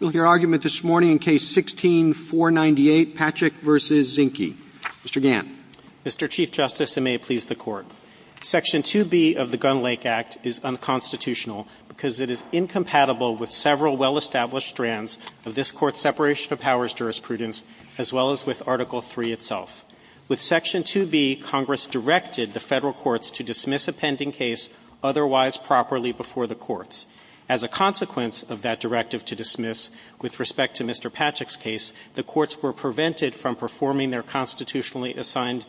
Mr. Gant. Mr. Chief Justice, and may it please the Court, Section 2B of the Gunn-Lake Act is unconstitutional because it is incompatible with several well-established strands of this Court's separation of powers jurisprudence, as well as with Article III itself. With Section 2B, Congress directed the federal courts to dismiss a pending case otherwise properly before the courts. As a consequence of that directive to dismiss, with respect to Mr. Patchak's case, the courts were prevented from performing their constitutionally assigned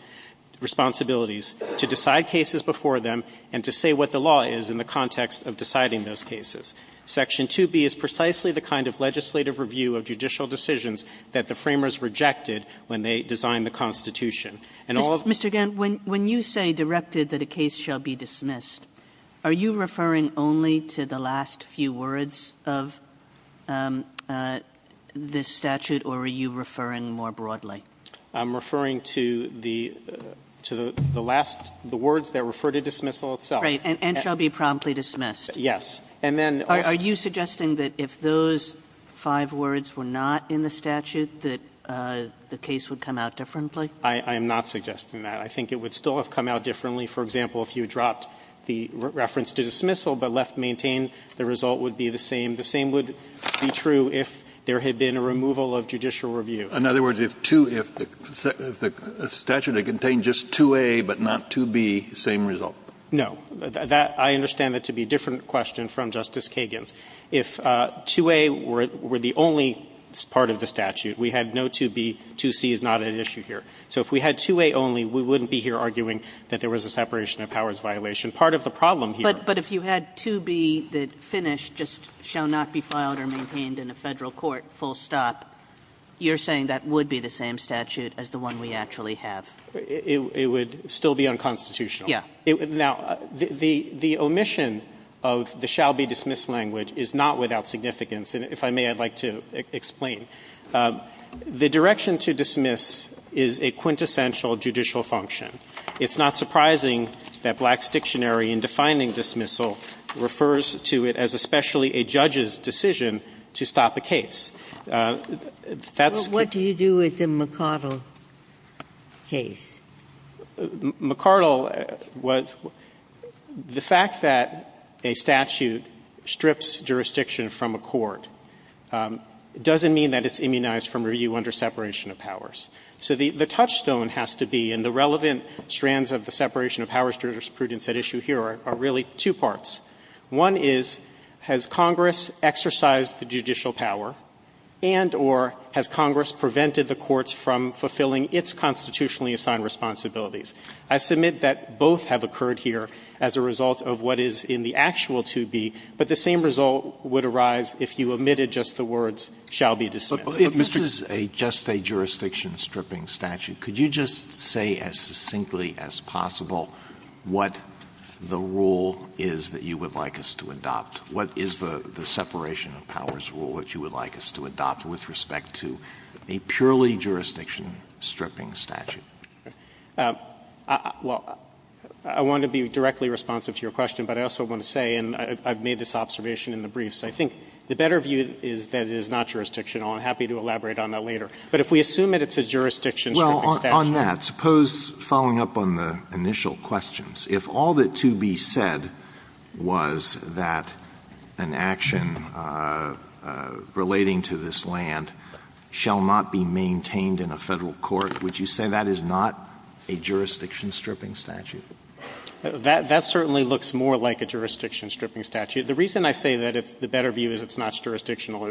responsibilities to decide cases before them and to say what the law is in the context of deciding those cases. Section 2B is precisely the kind of legislative review of judicial decisions that the framers rejected when they designed the Constitution. And all of the other cases that were to the last few words of this statute, or are you referring more broadly? I'm referring to the last, the words that refer to dismissal itself. Right. And shall be promptly dismissed. Yes. And then also Are you suggesting that if those five words were not in the statute that the case would come out differently? I am not suggesting that. I think it would still have come out differently. For example, if you dropped the reference to dismissal but left maintain, the result would be the same. The same would be true if there had been a removal of judicial review. In other words, if two, if the statute had contained just 2A but not 2B, same result? No. That, I understand that to be a different question from Justice Kagan's. If 2A were the only part of the statute, we had no 2B, 2C is not at issue here. So if we had 2A only, we wouldn't be here arguing that there was a separation of powers violation. Part of the problem here But if you had 2B that finished, just shall not be filed or maintained in a Federal court, full stop, you're saying that would be the same statute as the one we actually have. It would still be unconstitutional. Yes. Now, the omission of the shall be dismissed language is not without significance. And if I may, I would like to explain. The direction to dismiss is a quintessential judicial function. It's not surprising that Black's Dictionary in defining dismissal refers to it as especially a judge's decision to stop a case. That's But what do you do with the McArdle case? McArdle was the fact that a statute strips jurisdiction from a court doesn't mean that it's immunized from review under separation of powers. So the touchstone has to be, and the relevant strands of the separation of powers jurisprudence at issue here are really two parts. One is, has Congress exercised the judicial power and or has Congress prevented the courts from fulfilling its constitutionally assigned responsibilities? I submit that both have occurred here as a result of what is in the actual 2B, but the same result would arise if you omitted just the words shall be dismissed. If this is just a jurisdiction-stripping statute, could you just say as succinctly as possible what the rule is that you would like us to adopt? What is the separation of powers rule that you would like us to adopt with respect to a purely jurisdiction-stripping statute? Well, I want to be directly responsive to your question, but I also want to say, and I've made this observation in the briefs, I think the better view is that it is not jurisdictional. I'm happy to elaborate on that later. But if we assume that it's a jurisdiction-stripping statute. Well, on that, suppose, following up on the initial questions, if all that 2B said was that an action relating to this land shall not be maintained in a Federal court, would you say that is not a jurisdiction-stripping statute? That certainly looks more like a jurisdiction-stripping statute. The reason I say that the better view is it's not jurisdictional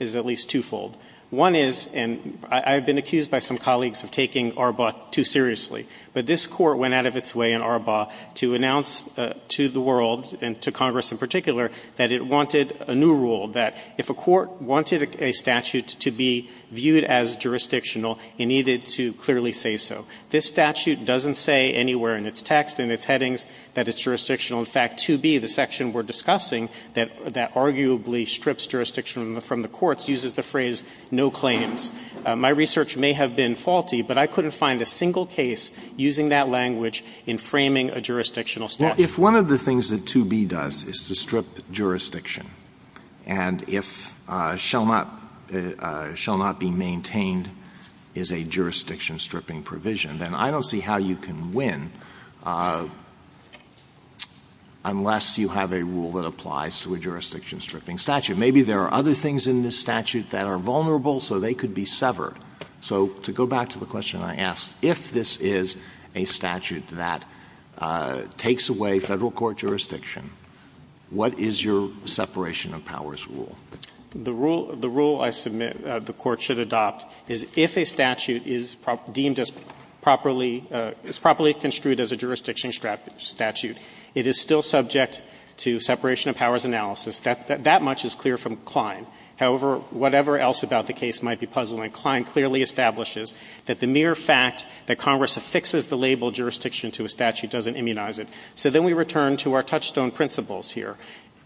is at least twofold. One is, and I've been accused by some colleagues of taking ARBAW too seriously, but this Court went out of its way in ARBAW to announce to the world and to Congress in particular that it wanted a new rule, that if a court wanted a statute to be viewed as jurisdictional, it needed to clearly say so. This statute doesn't say anywhere in its text, in its headings, that it's jurisdictional. In fact, 2B, the section we're discussing that arguably strips jurisdiction from the courts, uses the phrase no claims. My research may have been faulty, but I couldn't find a single case using that language in framing a jurisdictional statute. Alitoso, if one of the things that 2B does is to strip jurisdiction, and if shall not be maintained is a jurisdiction-stripping provision, then I don't see how you can win unless you have a rule that applies to a jurisdiction-stripping statute. Maybe there are other things in this statute that are vulnerable, so they could be severed. So to go back to the question I asked, if this is a statute that takes away Federal Court jurisdiction, what is your separation of powers rule? The rule I submit the Court should adopt is if a statute is deemed as properly – is properly construed as a jurisdiction statute, it is still subject to separation of powers analysis. That much is clear from Klein. However, whatever else about the case might be puzzling, Klein clearly establishes that the mere fact that Congress affixes the label jurisdiction to a statute doesn't immunize it. So then we return to our touchstone principles here.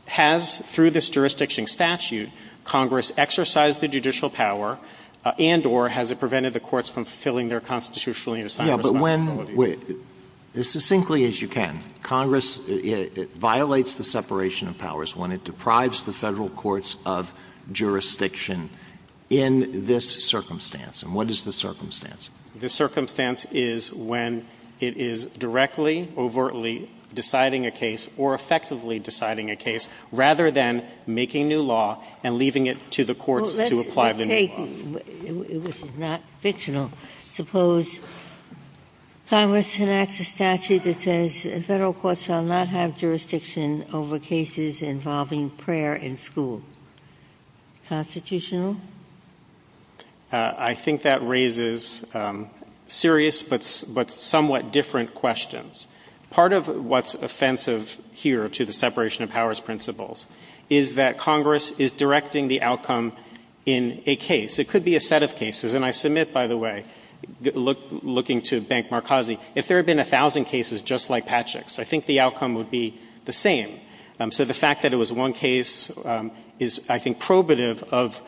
Has, through this jurisdiction statute, Congress exercised the judicial power and or has it prevented the courts from fulfilling their constitutionally assigned responsibility? Yes, but when – as succinctly as you can, Congress violates the separation of powers when it deprives the Federal courts of jurisdiction in this circumstance. And what is the circumstance? The circumstance is when it is directly, overtly deciding a case or effectively deciding a case, rather than making new law and leaving it to the courts to apply Well, let's take – which is not fictional – suppose Congress enacts a statute that says Federal courts shall not have jurisdiction over cases involving prayer in school. Constitutional? I think that raises serious but somewhat different questions. Part of what's offensive here to the separation of powers principles is that Congress is directing the outcome in a case. It could be a set of cases. And I submit, by the way, looking to Bank Marcosi, if there had been 1,000 cases just like Patrick's, I think the outcome would be the same. So the fact that it was one case is, I think, probative of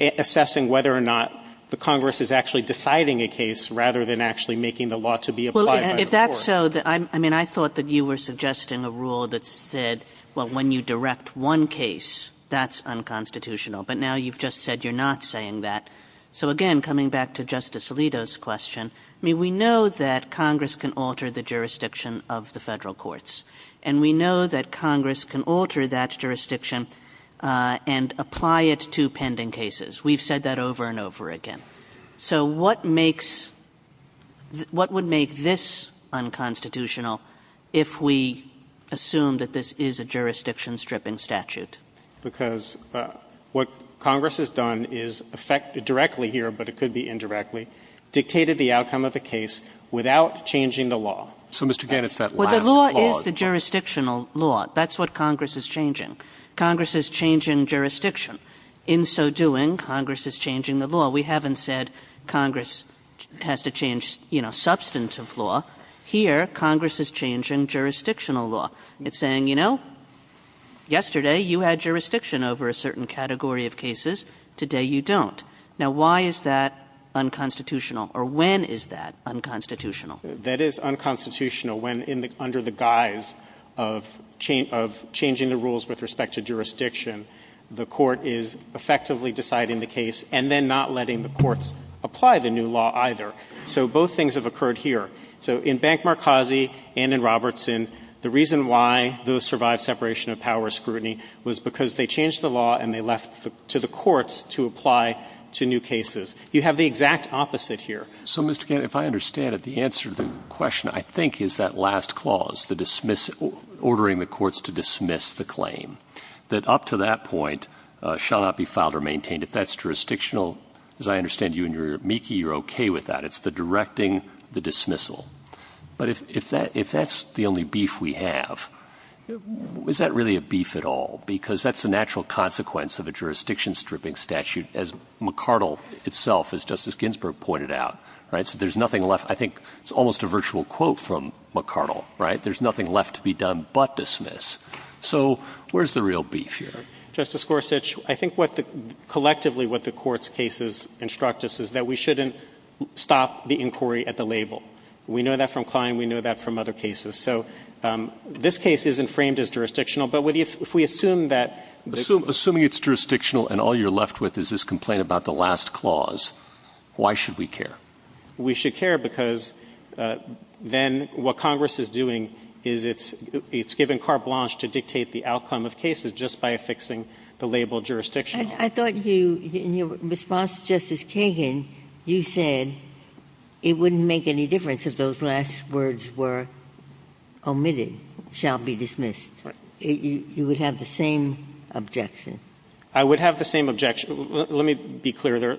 assessing whether or not the Congress is actually deciding a case rather than actually making the law to be applied by the courts. So, I mean, I thought that you were suggesting a rule that said, well, when you direct one case, that's unconstitutional. But now you've just said you're not saying that. So again, coming back to Justice Alito's question, I mean, we know that Congress can alter the jurisdiction of the Federal courts. And we know that Congress can alter that jurisdiction and apply it to pending cases. We've said that over and over again. So what makes – what would make this unconstitutional if we assume that this is a jurisdiction stripping statute? Because what Congress has done is affect – directly here, but it could be indirectly – dictated the outcome of a case without changing the law. So, Mr. Gannon, it's that last clause. Well, the law is the jurisdictional law. That's what Congress is changing. Congress is changing jurisdiction. In so doing, Congress is changing the law. We haven't said Congress has to change, you know, substantive law. Here, Congress is changing jurisdictional law. It's saying, you know, yesterday you had jurisdiction over a certain category of cases. Today you don't. Now, why is that unconstitutional? Or when is that unconstitutional? That is unconstitutional when in the – under the guise of changing the rules with respect to jurisdiction, the Court is effectively deciding the case and then not letting the courts apply the new law either. So both things have occurred here. So in Bank-Marcazi and in Robertson, the reason why those survived separation of powers scrutiny was because they changed the law and they left to the courts to apply to new cases. You have the exact opposite here. So, Mr. Gannon, if I understand it, the answer to the question, I think, is that last clause, the dismiss – ordering the courts to dismiss the claim, that up to that point shall not be filed or maintained. If that's jurisdictional, as I understand you in your amici, you're okay with that. It's the directing, the dismissal. But if that's the only beef we have, is that really a beef at all? Because that's a natural consequence of a jurisdiction-stripping statute, as McCardle itself, as Justice Ginsburg pointed out, right? So there's nothing left. I think it's almost a virtual quote from McCardle, right? There's nothing left to be done but dismiss. So where's the real beef here? Justice Gorsuch, I think what the – collectively what the court's cases instruct us is that we shouldn't stop the inquiry at the label. We know that from Klein. We know that from other cases. So this case isn't framed as jurisdictional. But if we assume that – Assuming it's jurisdictional and all you're left with is this complaint about the last clause, why should we care? We should care because then what Congress is doing is it's – it's given carte blance to the outcome of cases just by affixing the label jurisdictional. I thought you – in your response to Justice Kagan, you said it wouldn't make any difference if those last words were omitted, shall be dismissed. You would have the same objection. I would have the same objection. Let me be clear.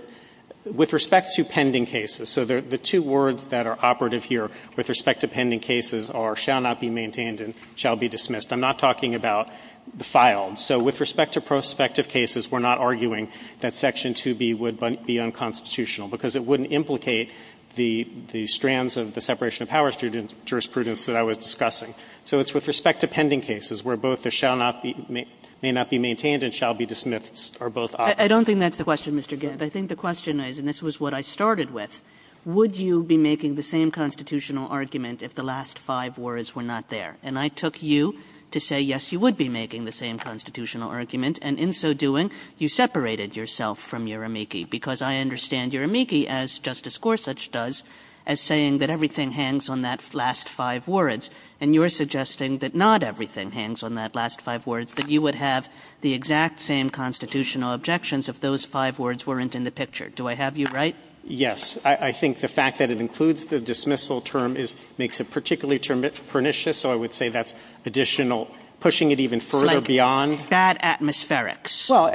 With respect to pending cases – so the two words that are operative here with respect to pending cases are shall not be maintained and shall be dismissed. I'm not talking about the filed. So with respect to prospective cases, we're not arguing that Section 2B would be unconstitutional because it wouldn't implicate the – the strands of the separation of power jurisprudence that I was discussing. So it's with respect to pending cases where both the shall not be – may not be maintained and shall be dismissed are both operative. I don't think that's the question, Mr. Gant. I think the question is – and this was what I started with – would you be making the same constitutional argument if the last five words were not there? And I took you to say, yes, you would be making the same constitutional argument. And in so doing, you separated yourself from your amici, because I understand your amici, as Justice Gorsuch does, as saying that everything hangs on that last five words. And you're suggesting that not everything hangs on that last five words, that you would have the exact same constitutional objections if those five words weren't in the picture. Do I have you right? Yes. I think the fact that it includes the dismissal term is – makes it particularly pernicious, so I would say that's additional – pushing it even further beyond – It's like bad atmospherics. Well,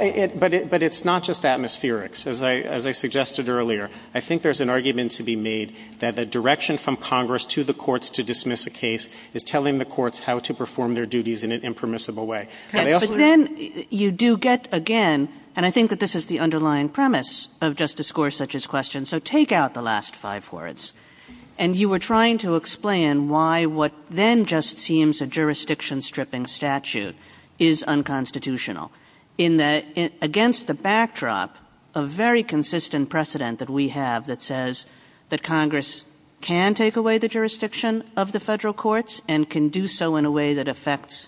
but it's not just atmospherics. As I suggested earlier, I think there's an argument to be made that the direction from Congress to the courts to dismiss a case is telling the courts how to perform their duties in an impermissible way. But I also – But then you do get, again – and I think that this is the underlying premise of Justice Gorsuch's question. So take out the last five words, and you were trying to explain why what then just seems a jurisdiction-stripping statute is unconstitutional, in that against the backdrop of very consistent precedent that we have that says that Congress can take away the jurisdiction of the Federal courts and can do so in a way that affects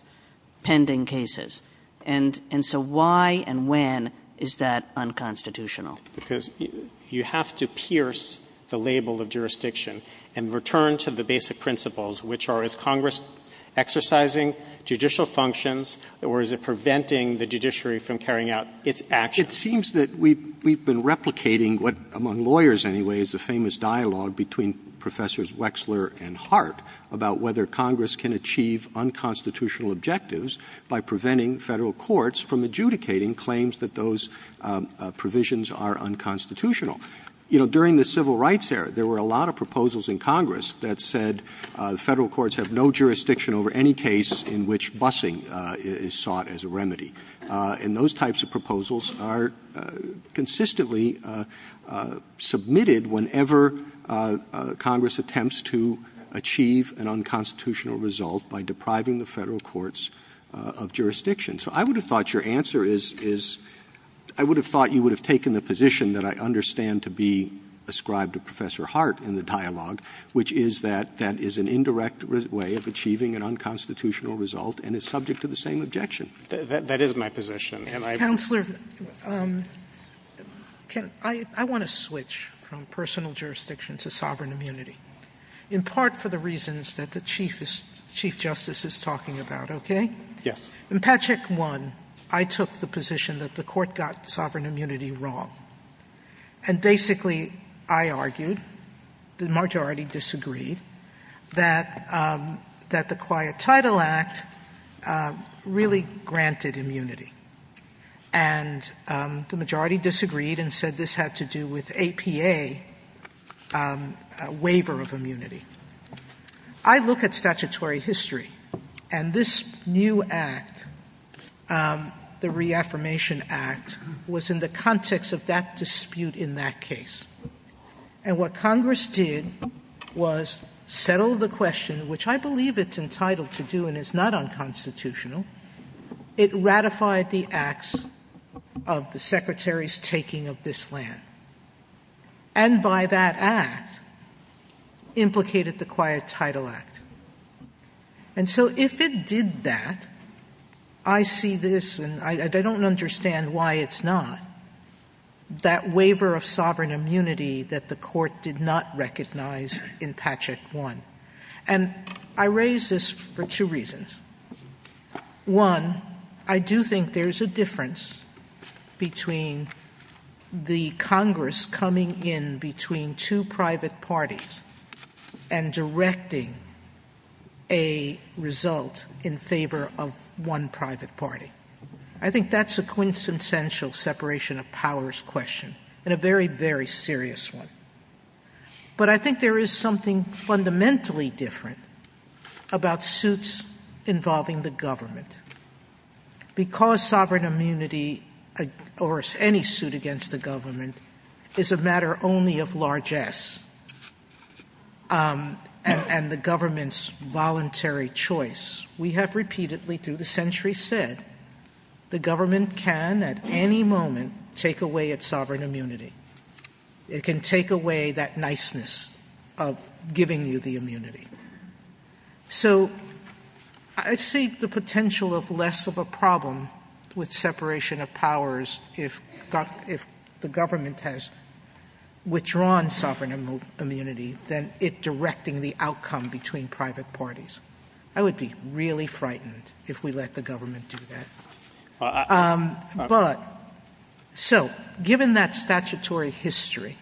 pending cases. And so why and when is that unconstitutional? Because you have to pierce the label of jurisdiction and return to the basic principles, which are, is Congress exercising judicial functions, or is it preventing the judiciary from carrying out its actions? It seems that we've been replicating what, among lawyers anyway, is the famous dialogue between Professors Wexler and Hart about whether Congress can achieve unconstitutional objectives by preventing Federal courts from adjudicating claims that those provisions are unconstitutional. You know, during the Civil Rights era, there were a lot of proposals in Congress that said Federal courts have no jurisdiction over any case in which busing is sought as a remedy. And those types of proposals are consistently submitted whenever Congress attempts to achieve an unconstitutional result by depriving the Federal courts of jurisdiction. So I would have thought your answer is, is I would have thought you would have taken the position that I understand to be ascribed to Professor Hart in the dialogue, which is that that is an indirect way of achieving an unconstitutional result and is subject to the same objection. That is my position. Counselor, I want to switch from personal jurisdiction to sovereign immunity, in part for the reasons that the Chief Justice is talking about, okay? Yes. In Patchak 1, I took the position that the court got sovereign immunity wrong. And basically, I argued, the majority disagreed, that the Quiet Title Act really granted immunity. And the majority disagreed and said this had to do with APA waiver of immunity. I look at statutory history, and this new act, the Reaffirmation Act, was in the context of that dispute in that case. And what Congress did was settle the question, which I believe it's entitled to do and is not unconstitutional. It ratified the acts of the Secretary's taking of this land. And by that act, implicated the Quiet Title Act. And so if it did that, I see this, and I don't understand why it's not, that waiver of sovereign immunity that the court did not recognize in Patchak 1. And I raise this for two reasons. One, I do think there's a difference between the Congress coming in between two private parties and directing a result in favor of one private party. I think that's a quintessential separation of powers question, and a very, very serious one. But I think there is something fundamentally different about suits involving the government. Because sovereign immunity, or any suit against the government, is a matter only of largesse, and the government's voluntary choice, we have repeatedly through the centuries said, the government can at any moment take away its sovereign immunity. It can take away that niceness of giving you the immunity. So I see the potential of less of a problem with separation of powers if the government has withdrawn sovereign immunity than it directing the outcome between private parties. I would be really frightened if we let the government do that. But, so, given that statutory history,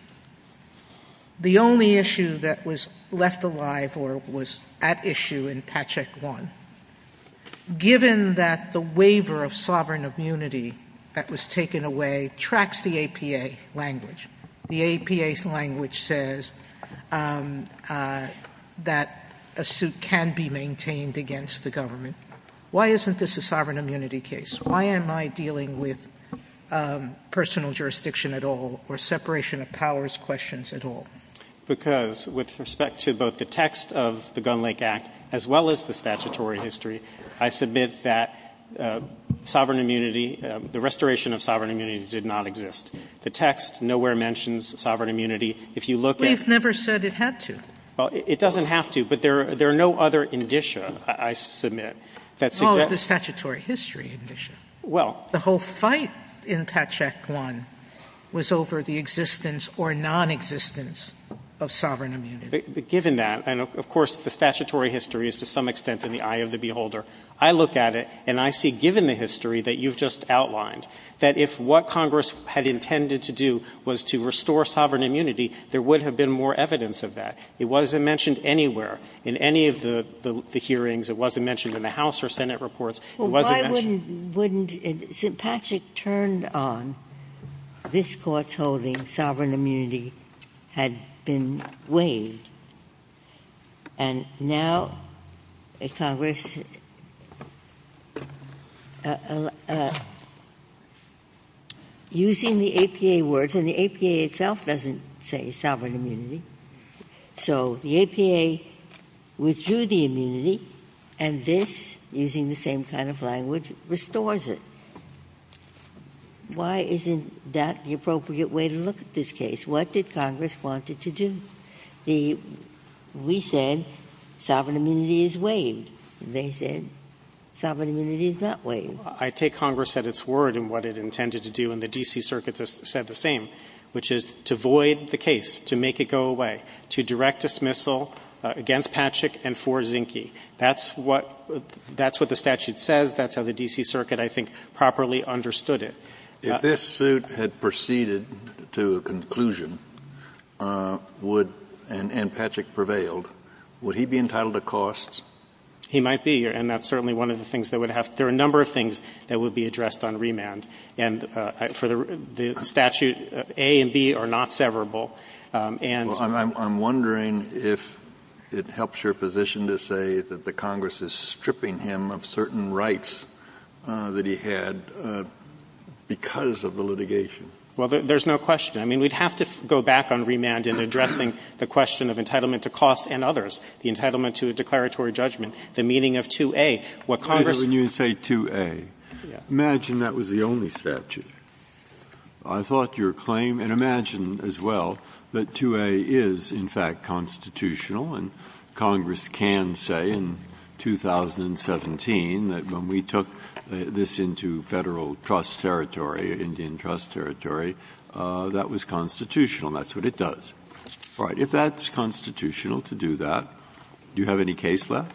the only issue that was left alive or was at issue in Patchak 1, given that the waiver of sovereign immunity that was taken away tracks the APA language. The APA's language says that a suit can be maintained against the government. Why isn't this a sovereign immunity case? Why am I dealing with personal jurisdiction at all, or separation of powers questions at all? Because with respect to both the text of the Gun Lake Act, as well as the statutory history, I submit that the restoration of sovereign immunity did not exist. The text nowhere mentions sovereign immunity. If you look at- We've never said it had to. Well, it doesn't have to, but there are no other indicia, I submit, that suggest- No, the statutory history indicia. Well- The whole fight in Patchak 1 was over the existence or nonexistence of sovereign immunity. Given that, and of course the statutory history is to some extent in the eye of the beholder. I look at it and I see, given the history that you've just outlined, that if what Congress had intended to do was to restore sovereign immunity, there would have been more evidence of that. It wasn't mentioned anywhere. In any of the hearings, it wasn't mentioned in the House or Senate reports. It wasn't mentioned- Well, why wouldn't, wouldn't, since Patchak turned on this Court's holding sovereign immunity had been waived, and now Congress, using the APA words, and the APA itself doesn't say sovereign immunity, so the APA withdrew the immunity, and this, using the same kind of language, restores it. Why isn't that the appropriate way to look at this case? What did Congress want it to do? The, we said sovereign immunity is waived. They said sovereign immunity is not waived. I take Congress at its word in what it intended to do, and the D.C. Circuit has said the same, which is to void the case, to make it go away, to direct dismissal against Patchak and for Zinke. That's what, that's what the statute says. That's how the D.C. Circuit, I think, properly understood it. If this suit had proceeded to a conclusion, would, and Patchak prevailed, would he be entitled to costs? He might be, and that's certainly one of the things that would have to, there are a number of things that would be addressed on remand. And for the statute, A and B are not severable, and so on. Kennedy, I'm wondering if it helps your position to say that the Congress is stripping him of certain rights that he had because of the litigation. Well, there's no question. I mean, we'd have to go back on remand in addressing the question of entitlement to costs and others, the entitlement to a declaratory judgment, the meaning of 2A. What Congress. But when you say 2A, imagine that was the only statute. I thought your claim, and imagine as well that 2A is in fact constitutional. And Congress can say in 2017 that when we took this into Federal trust territory, Indian trust territory, that was constitutional. That's what it does. All right. If that's constitutional to do that, do you have any case left?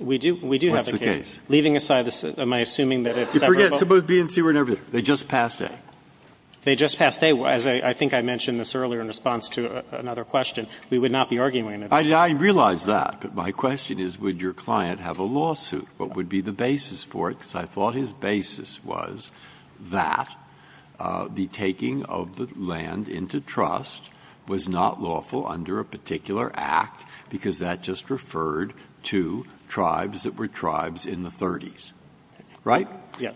We do. We do have a case. What's the case? Leaving aside this, am I assuming that it's severable? You forget, B and C were never there. They just passed A. They just passed A. As I think I mentioned this earlier in response to another question, we would not be arguing that. I realize that, but my question is, would your client have a lawsuit? What would be the basis for it? Because I thought his basis was that the taking of the land into trust was not lawful under a particular act, because that just referred to tribes that were tribes in the 30s. Right?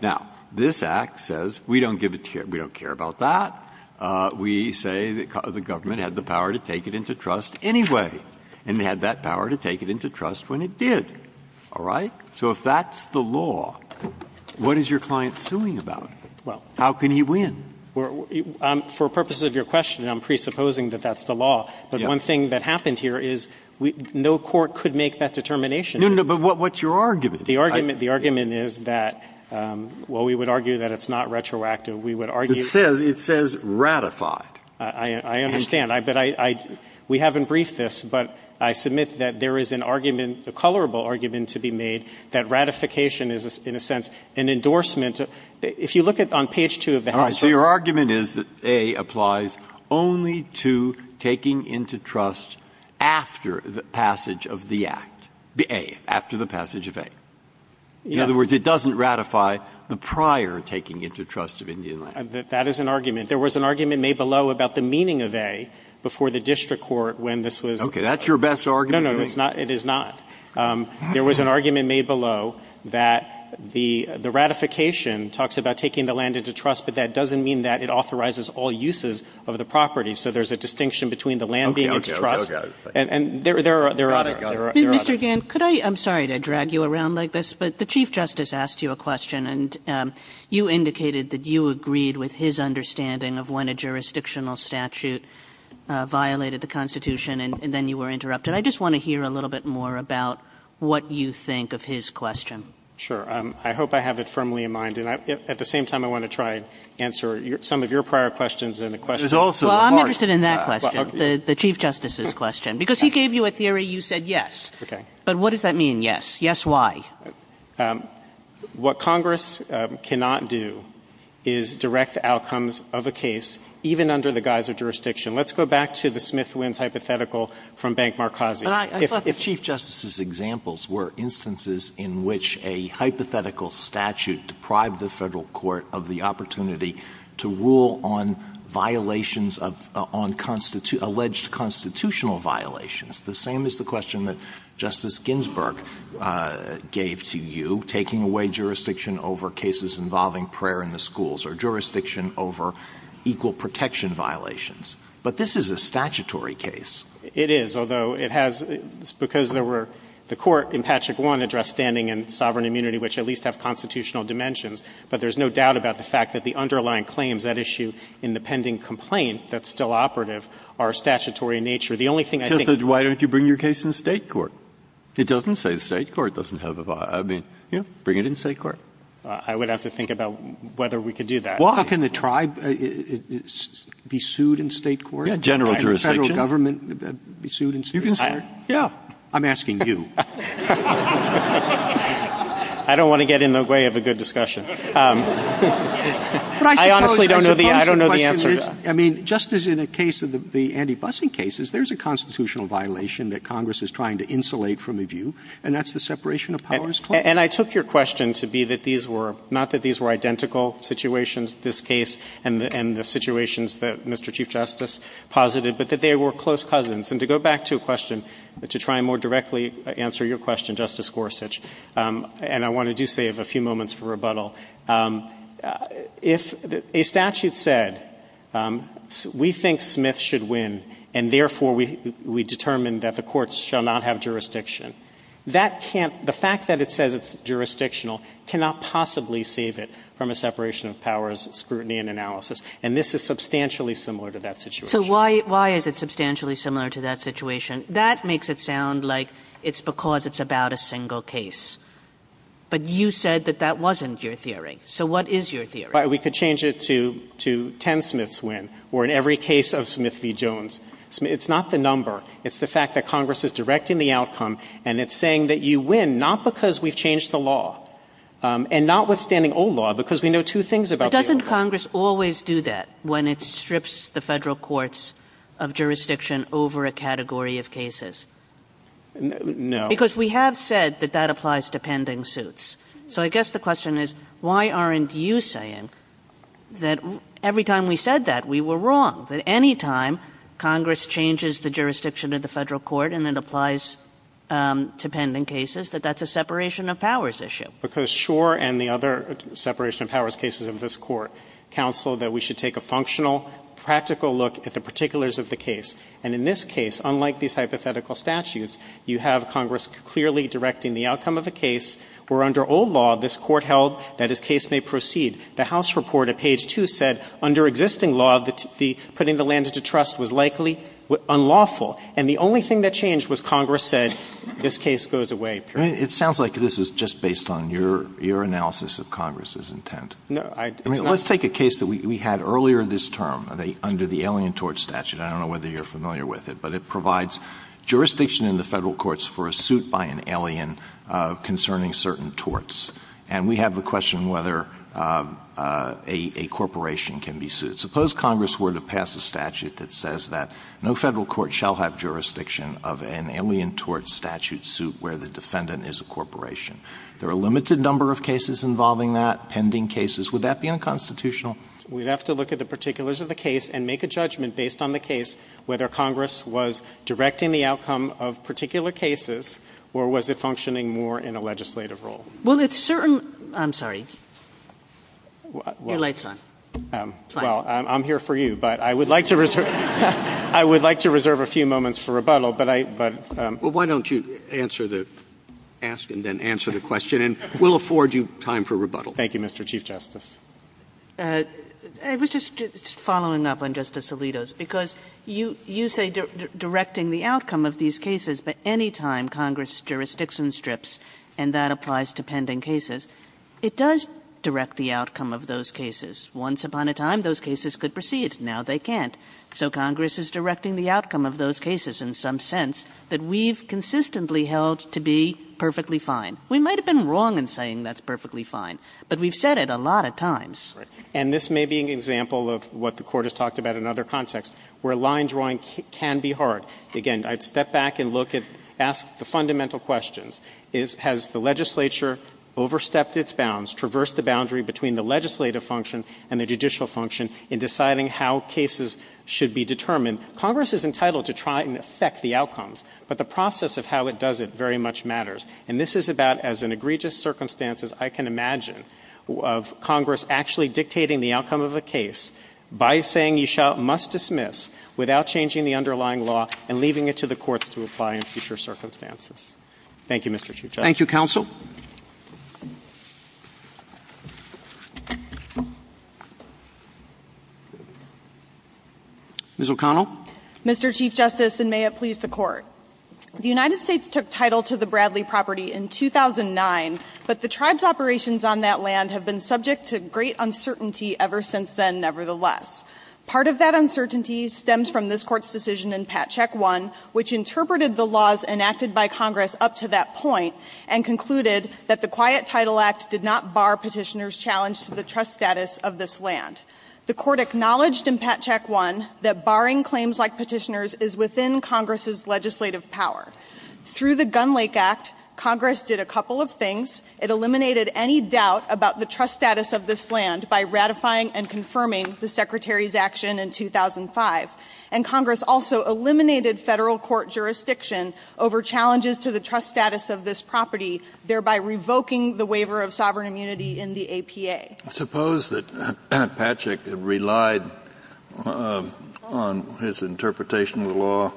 Now, this Act says, we don't give a care, we don't care about that. We say the government had the power to take it into trust anyway, and it had that power to take it into trust when it did. All right? So if that's the law, what is your client suing about? How can he win? For purposes of your question, I'm presupposing that that's the law. But one thing that happened here is no court could make that determination. No, no, but what's your argument? The argument is that, well, we would argue that it's not retroactive. We would argue that it's not retroactive. It says ratified. I understand. But we haven't briefed this, but I submit that there is an argument, a colorable argument to be made that ratification is, in a sense, an endorsement. If you look at on page 2 of the handbook. So your argument is that A applies only to taking into trust after the passage of the Act, the A, after the passage of A. In other words, it doesn't ratify the prior taking into trust of Indian land. That is an argument. There was an argument made below about the meaning of A before the district court when this was. Okay. That's your best argument? No, no, it's not. It is not. There was an argument made below that the ratification talks about taking the land into trust, but that doesn't mean that it authorizes all uses of the property. So there's a distinction between the land being into trust and there are others. Mr. Gantt, could I – I'm sorry to drag you around like this, but the Chief Justice asked you a question, and you indicated that you agreed with his understanding of when a jurisdictional statute violated the Constitution, and then you were interrupted. I just want to hear a little bit more about what you think of his question. Sure. I hope I have it firmly in mind, and at the same time, I want to try and answer some of your prior questions in the question. Well, I'm interested in that question, the Chief Justice's question, because he gave you a theory you said yes. Okay. But what does that mean, yes? Yes, why? What Congress cannot do is direct the outcomes of a case even under the guise of jurisdiction. Let's go back to the Smith-Winns hypothetical from Bank Marcosi. But I thought the Chief Justice's examples were instances in which a hypothetical statute deprived the Federal court of the opportunity to rule on violations of – on alleged constitutional violations, the same as the question that Justice Ginsburg gave to you, taking away jurisdiction over cases involving prayer in the schools or jurisdiction over equal protection violations. But this is a statutory case. It is, although it has – because there were – the Court in Patrick 1 addressed standing and sovereign immunity, which at least have constitutional dimensions. But there's no doubt about the fact that the underlying claims at issue in the pending complaint that's still operative are statutory in nature. The only thing I think – Justice, why don't you bring your case in State court? It doesn't say State court doesn't have a – I mean, you know, bring it in State court. I would have to think about whether we could do that. Well, how can the tribe be sued in State court? General jurisdiction. Could the Federal government be sued in State court? You can sue it. Yeah. I'm asking you. I don't want to get in the way of a good discussion. But I suppose the question is – I honestly don't know the answer. I mean, Justice, in a case of the anti-busing cases, there's a constitutional violation that Congress is trying to insulate from a view, and that's the separation of powers claim. And I took your question to be that these were – not that these were identical situations, this case and the situations that Mr. Chief Justice posited, but that they were close cousins. And to go back to a question, to try and more directly answer your question, Justice Gorsuch, and I want to do save a few moments for rebuttal, if a statute said, we think Smith should win, and therefore, we determine that the courts shall not have jurisdiction, that can't – the fact that it says it's jurisdictional cannot possibly save it from a separation of powers scrutiny and analysis. And this is substantially similar to that situation. So why is it substantially similar to that situation? That makes it sound like it's because it's about a single case. But you said that that wasn't your theory. So what is your theory? We could change it to 10 Smiths win, or in every case of Smith v. Jones. It's not the number. It's the fact that Congress is directing the outcome, and it's saying that you win not because we've changed the law, and notwithstanding old law, because we know two things about the old law. So why doesn't Congress always do that when it strips the Federal courts of jurisdiction over a category of cases? No. Because we have said that that applies to pending suits. So I guess the question is, why aren't you saying that every time we said that, we were wrong, that any time Congress changes the jurisdiction of the Federal court and it applies to pending cases, that that's a separation of powers issue? Because Schor and the other separation of powers cases of this Court counseled that we should take a functional, practical look at the particulars of the case. And in this case, unlike these hypothetical statutes, you have Congress clearly directing the outcome of a case where under old law this Court held that as case may proceed. The House report at page 2 said under existing law that putting the land into trust was likely unlawful. And the only thing that changed was Congress said this case goes away. Alitoson It sounds like this is just based on your analysis of Congress's intent. I mean, let's take a case that we had earlier this term under the Alien Tort Statute. I don't know whether you're familiar with it, but it provides jurisdiction in the Federal courts for a suit by an alien concerning certain torts. And we have the question whether a corporation can be sued. Suppose Congress were to pass a statute that says that no Federal court shall have an independent as a corporation. There are a limited number of cases involving that, pending cases. Would that be unconstitutional? We'd have to look at the particulars of the case and make a judgment based on the case whether Congress was directing the outcome of particular cases or was it functioning more in a legislative role. Well, it's certain — I'm sorry. Your light's on. Well, I'm here for you, but I would like to reserve — I would like to reserve a few moments for rebuttal, but I — Well, why don't you answer the — ask and then answer the question, and we'll afford you time for rebuttal. Thank you, Mr. Chief Justice. I was just following up on Justice Alito's, because you — you say directing the outcome of these cases, but any time Congress' jurisdiction strips, and that applies to pending cases, it does direct the outcome of those cases. Once upon a time, those cases could proceed. Now they can't. So Congress is directing the outcome of those cases in some sense that we've consistently held to be perfectly fine. We might have been wrong in saying that's perfectly fine, but we've said it a lot of times. Right. And this may be an example of what the Court has talked about in other contexts, where line drawing can be hard. Again, I'd step back and look at — ask the fundamental questions. Is — has the legislature overstepped its bounds, traversed the boundary between the legislative function and the judicial function in deciding how cases should be determined? Congress is entitled to try and affect the outcomes, but the process of how it does it very much matters. And this is about, as in egregious circumstances, I can imagine of Congress actually dictating the outcome of a case by saying you shall — must dismiss, without changing the underlying law, and leaving it to the courts to apply in future circumstances. Thank you, Mr. Chief Justice. Thank you, counsel. Ms. O'Connell. Mr. Chief Justice, and may it please the Court. The United States took title to the Bradley property in 2009, but the tribe's operations on that land have been subject to great uncertainty ever since then, nevertheless. Part of that uncertainty stems from this Court's decision in Pat check one, which and concluded that the Quiet Title Act did not bar Petitioner's challenge to the trust status of this land. The Court acknowledged in Pat check one that barring claims like Petitioner's is within Congress's legislative power. Through the Gun Lake Act, Congress did a couple of things. It eliminated any doubt about the trust status of this land by ratifying and confirming the Secretary's action in 2005. And Congress also eliminated Federal court jurisdiction over challenges to the trust status of this property, thereby revoking the waiver of sovereign immunity in the APA. Suppose that Pat check relied on his interpretation of the law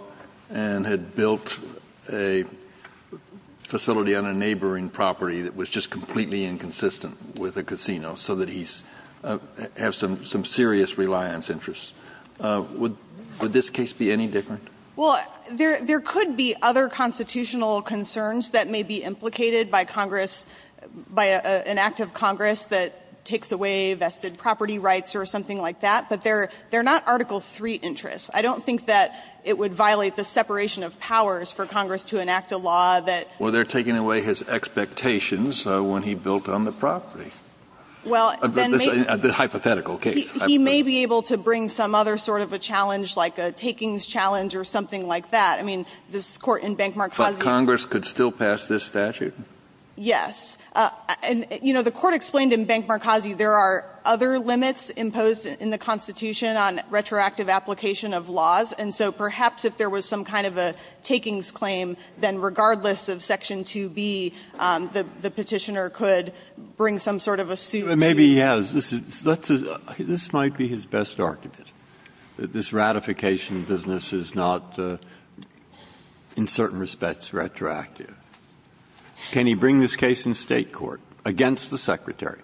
and had built a facility on a neighboring property that was just completely inconsistent with a casino so that he has some serious reliance interests. Would this case be any different? Well, there could be other constitutional concerns that may be implicated by Congress, by an act of Congress that takes away vested property rights or something like that, but they're not Article III interests. I don't think that it would violate the separation of powers for Congress to enact a law that was not in Congress's interest. Well, they're taking away his expectations when he built on the property. Well, then maybe he may be able to bring some other sort of a challenge like a takings challenge or something like that. I mean, this Court in Bank Marcossi. But Congress could still pass this statute? Yes. And, you know, the Court explained in Bank Marcossi there are other limits imposed in the Constitution on retroactive application of laws, and so perhaps if there was some kind of a takings claim, then regardless of Section 2B, the Petitioner could bring some sort of a suit to it. Maybe he has. This is not, in certain respects, retroactive. Can he bring this case in State court against the Secretary?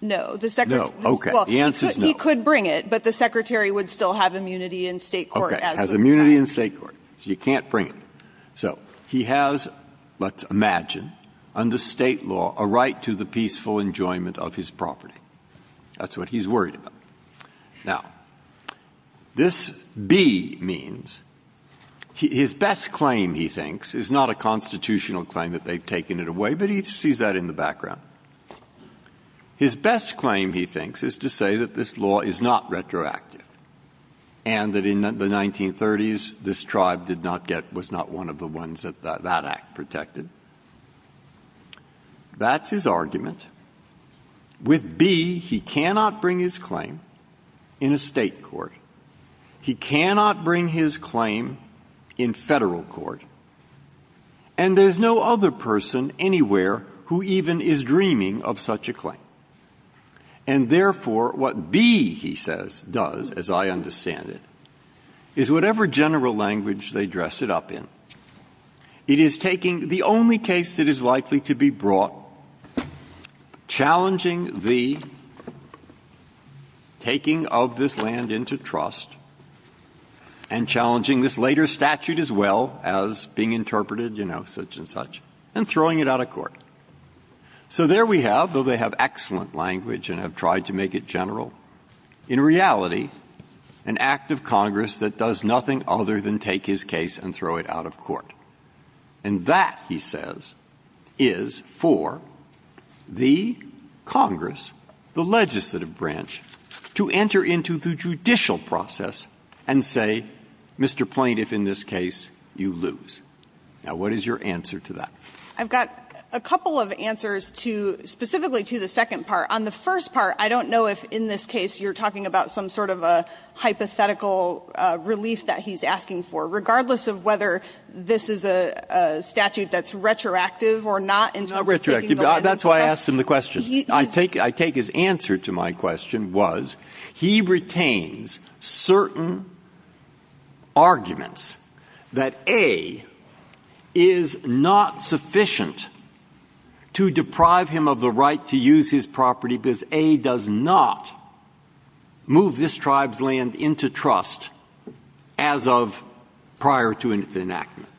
No. The Secretary's the answer is no. He could bring it, but the Secretary would still have immunity in State court. Okay. Has immunity in State court. So you can't bring it. So he has, let's imagine, under State law, a right to the peaceful enjoyment of his property. That's what he's worried about. Now, this B means, his best claim, he thinks, is not a constitutional claim that they've taken it away, but he sees that in the background. His best claim, he thinks, is to say that this law is not retroactive and that in the 1930s this tribe did not get, was not one of the ones that that act protected. That's his argument. With B, he cannot bring his claim in a State court. He cannot bring his claim in Federal court. And there's no other person anywhere who even is dreaming of such a claim. And therefore, what B, he says, does, as I understand it, is whatever general language they dress it up in, it is taking the only case that is likely to be brought into law, challenging the taking of this land into trust, and challenging this later statute as well, as being interpreted, you know, such and such, and throwing it out of court. So there we have, though they have excellent language and have tried to make it general, in reality, an act of Congress that does nothing other than take his case and throw it out of court. And that, he says, is for the Congress, the legislative branch, to enter into the judicial process and say, Mr. Plaintiff, in this case, you lose. Now, what is your answer to that? I've got a couple of answers to, specifically to the second part. On the first part, I don't know if in this case you're talking about some sort of a hypothetical relief that he's asking for, regardless of whether this is a statute that's retroactive or not in terms of taking the land into trust. Breyer. That's why I asked him the question. I take his answer to my question was, he retains certain arguments that A, is not sufficient to deprive him of the right to use his property because A does not move this tribe's land into trust as of prior to its enactment.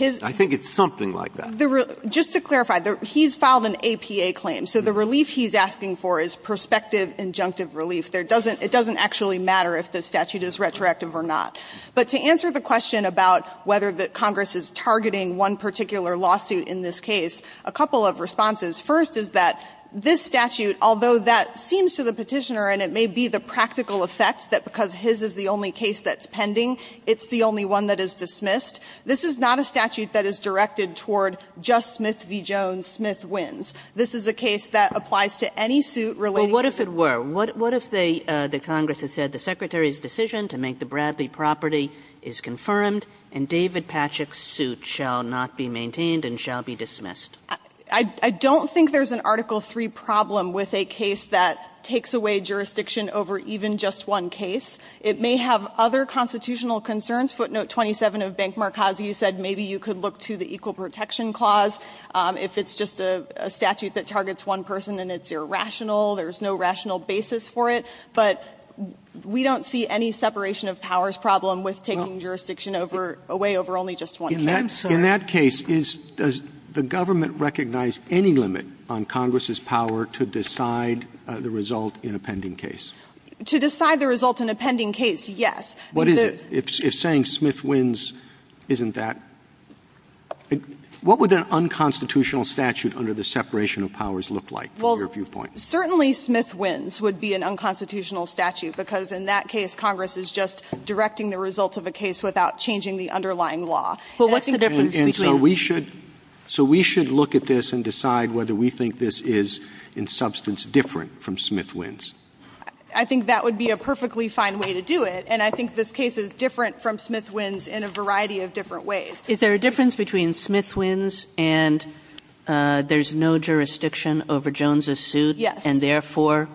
I think it's something like that. Just to clarify, he's filed an APA claim, so the relief he's asking for is prospective injunctive relief. It doesn't actually matter if the statute is retroactive or not. But to answer the question about whether Congress is targeting one particular lawsuit in this case, a couple of responses. First is that this statute, although that seems to the Petitioner, and it may be the practical effect that because his is the only case that's pending, it's the only one that is dismissed, this is not a statute that is directed toward just Smith v. Jones, Smith wins. This is a case that applies to any suit related to that. Kagan. Kagan. Well, what if it were? What if the Congress has said the Secretary's decision to make the Bradley property is confirmed and David Patchak's suit shall not be maintained and shall be dismissed? I don't think there's an Article III problem with a case that takes away jurisdiction over even just one case. It may have other constitutional concerns. Footnote 27 of Bank Marcosi said maybe you could look to the Equal Protection Clause if it's just a statute that targets one person and it's irrational, there's no rational basis for it. But we don't see any separation of powers problem with taking jurisdiction over away over only just one case. In that case, does the government recognize any limit on Congress's power to decide the result in a pending case? To decide the result in a pending case, yes. What is it? If saying Smith wins isn't that what would an unconstitutional statute under the separation of powers look like from your viewpoint? Certainly Smith wins would be an unconstitutional statute because in that case Congress is just directing the result of a case without changing the underlying law. And so we should look at this and decide whether we think this is in substance different from Smith wins. I think that would be a perfectly fine way to do it. And I think this case is different from Smith wins in a variety of different ways. Is there a difference between Smith wins and there's no jurisdiction over Jones's suit? Yes. And therefore,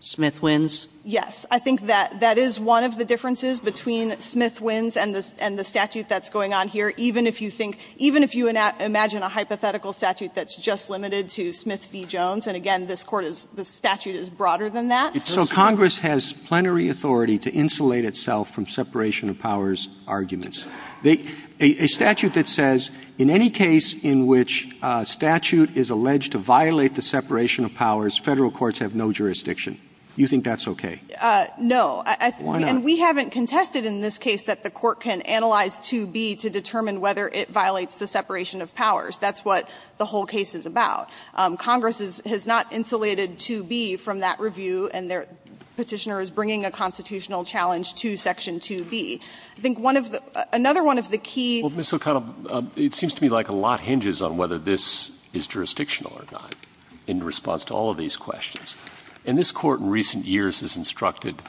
Smith wins? Yes. I think that that is one of the differences between Smith wins and the statute that's going on here. Even if you think, even if you imagine a hypothetical statute that's just limited to Smith v. Jones, and again, this Court is, this statute is broader than that. So Congress has plenary authority to insulate itself from separation of powers arguments. A statute that says in any case in which a statute is alleged to violate the separation of powers, Federal courts have no jurisdiction. You think that's okay? No. And we haven't contested in this case that the Court can analyze 2B to determine whether it violates the separation of powers. That's what the whole case is about. Congress has not insulated 2B from that review, and the Petitioner is bringing a constitutional challenge to Section 2B. I think one of the – another one of the key – Well, Ms. O'Connell, it seems to me like a lot hinges on whether this is jurisdictional or not in response to all of these questions. And this Court in recent years has instructed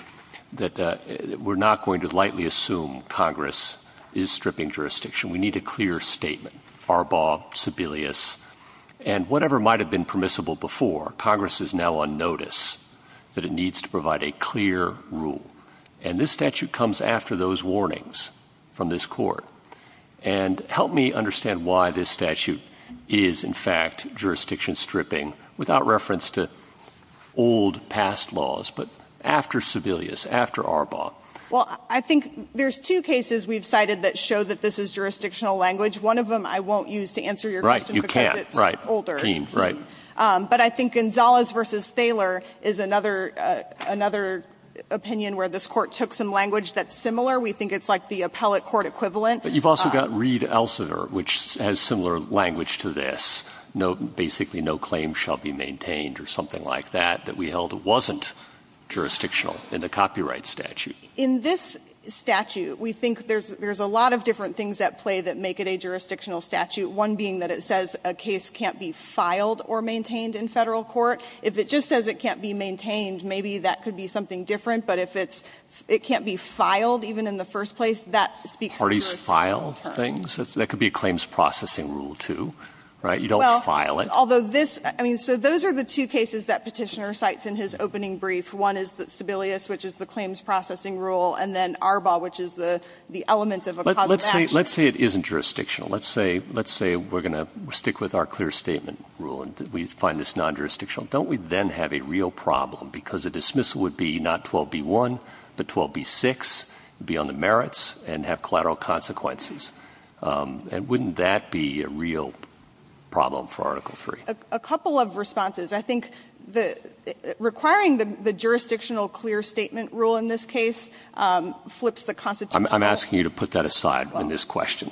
that we're not going to lightly assume Congress is stripping jurisdiction. We need a clear statement. Arbaugh, Sebelius. And whatever might have been permissible before, Congress is now on notice that it needs to provide a clear rule. And this statute comes after those warnings from this Court. And help me understand why this statute is, in fact, jurisdiction-stripping without reference to old, past laws, but after Sebelius, after Arbaugh. Well, I think there's two cases we've cited that show that this is jurisdictional language. One of them I won't use to answer your question. You can't, right. Because it's older. Keen, right. But I think Gonzalez v. Thaler is another – another opinion where this Court took some language that's similar. We think it's like the appellate court equivalent. But you've also got Reed-Elsevier, which has similar language to this. Basically, no claim shall be maintained, or something like that, that we held wasn't jurisdictional in the copyright statute. In this statute, we think there's a lot of different things at play that make it a jurisdictional statute, one being that it says a case can't be filed or maintained in Federal court. If it just says it can't be maintained, maybe that could be something different. But if it's – it can't be filed even in the first place, that speaks to jurisdiction. Parties file things? That could be a claims processing rule, too, right? You don't file it. Although this – I mean, so those are the two cases that Petitioner cites in his opening brief. One is Sebelius, which is the claims processing rule, and then Arbaugh, which is the element of a causal action. Let's say it isn't jurisdictional. Let's say we're going to stick with our clear statement rule, and we find this non-jurisdictional. Don't we then have a real problem? Because a dismissal would be not 12b-1, but 12b-6, be on the merits, and have collateral consequences. And wouldn't that be a real problem for Article III? A couple of responses. I think requiring the jurisdictional clear statement rule in this case flips the Constitution. I'm asking you to put that aside in this question.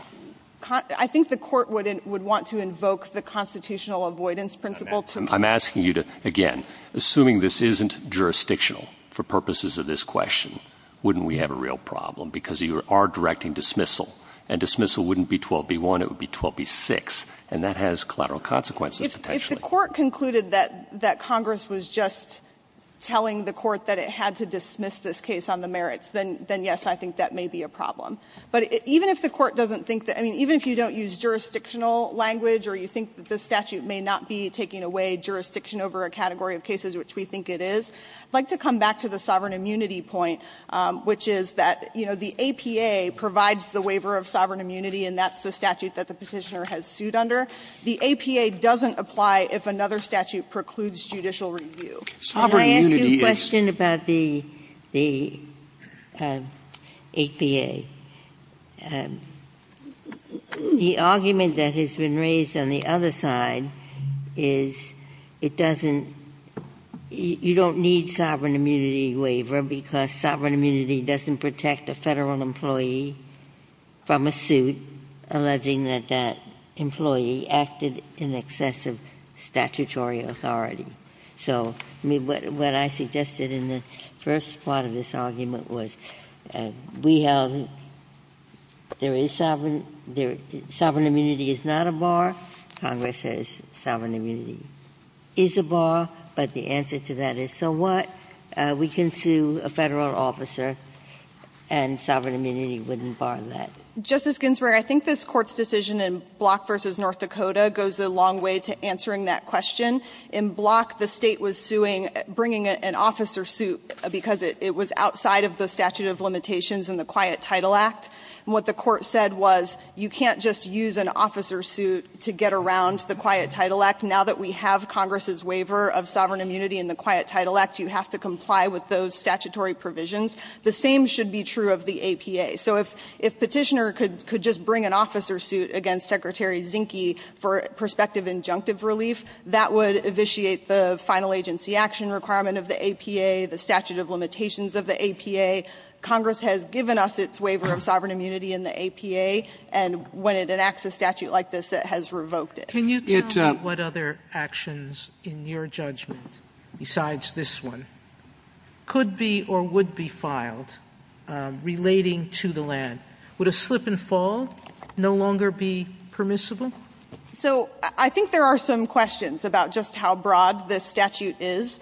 I think the Court would want to invoke the constitutional avoidance principle to – I'm asking you to, again, assuming this isn't jurisdictional for purposes of this question, wouldn't we have a real problem? Because you are directing dismissal, and dismissal wouldn't be 12b-1. It would be 12b-6, and that has collateral consequences potentially. If the Court concluded that Congress was just telling the Court that it had to dismiss this case on the merits, then, yes, I think that may be a problem. But even if the Court doesn't think that – I mean, even if you don't use jurisdictional language or you think that the statute may not be taking away jurisdiction over a category of cases, which we think it is, I'd like to come back to the sovereign immunity point, which is that, you know, the APA provides the waiver of sovereign immunity, and that's the statute that the Petitioner has sued under. The APA doesn't apply if another statute precludes judicial review. Sovereign immunity is – Can I ask you a question about the APA? The argument that has been raised on the other side is it doesn't – you don't need sovereign immunity waiver because sovereign immunity doesn't protect a Federal employee from a suit alleging that that employee acted in excess of statutory authority. So, I mean, what I suggested in the first part of this argument was we have – there is sovereign – sovereign immunity is not a bar. Congress says sovereign immunity is a bar, but the answer to that is, so what? We can sue a Federal officer and sovereign immunity wouldn't bar that. Justice Ginsburg, I think this Court's decision in Block v. North Dakota goes a long way to answering that question. In Block, the State was suing – bringing an officer suit because it was outside of the statute of limitations in the Quiet Title Act, and what the Court said was you can't just use an officer suit to get around the Quiet Title Act. Now that we have Congress's waiver of sovereign immunity in the Quiet Title Act, you have to comply with those statutory provisions. The same should be true of the APA. So if Petitioner could just bring an officer suit against Secretary Zinke for prospective injunctive relief, that would evisciate the final agency action requirement of the APA, the statute of limitations of the APA. Congress has given us its waiver of sovereign immunity in the APA, and when it enacts a statute like this, it has revoked it. Sotomayor, can you tell me what other actions in your judgment besides this one could be or would be filed relating to the land? Would a slip and fall no longer be permissible? So I think there are some questions about just how broad this statute is.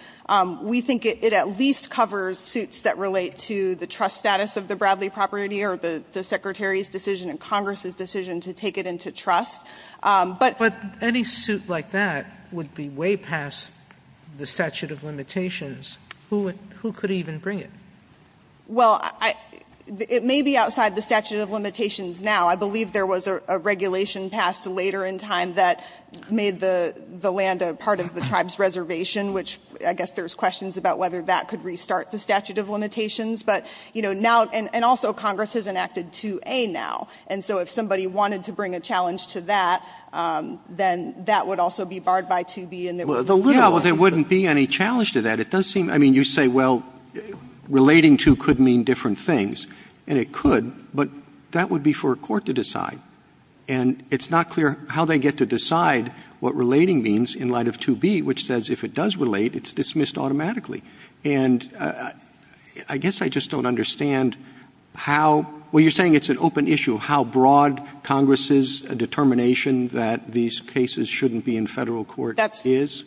We think it at least covers suits that relate to the trust status of the Bradley property or the Secretary's decision and Congress's decision to take it into trust. But any suit like that would be way past the statute of limitations. Who could even bring it? Well, it may be outside the statute of limitations now. I believe there was a regulation passed later in time that made the land a part of the tribe's reservation, which I guess there's questions about whether that could restart the statute of limitations. But, you know, now and also Congress has enacted 2A now. And so if somebody wanted to bring a challenge to that, then that would also be barred by 2B and there would be no question. Well, there wouldn't be any challenge to that. It does seem, I mean, you say, well, relating to could mean different things. And it could, but that would be for a court to decide. And it's not clear how they get to decide what relating means in light of 2B, which says if it does relate, it's dismissed automatically. And I guess I just don't understand how – well, you're saying it's an open issue, how broad Congress's determination that these cases shouldn't be in Federal court is?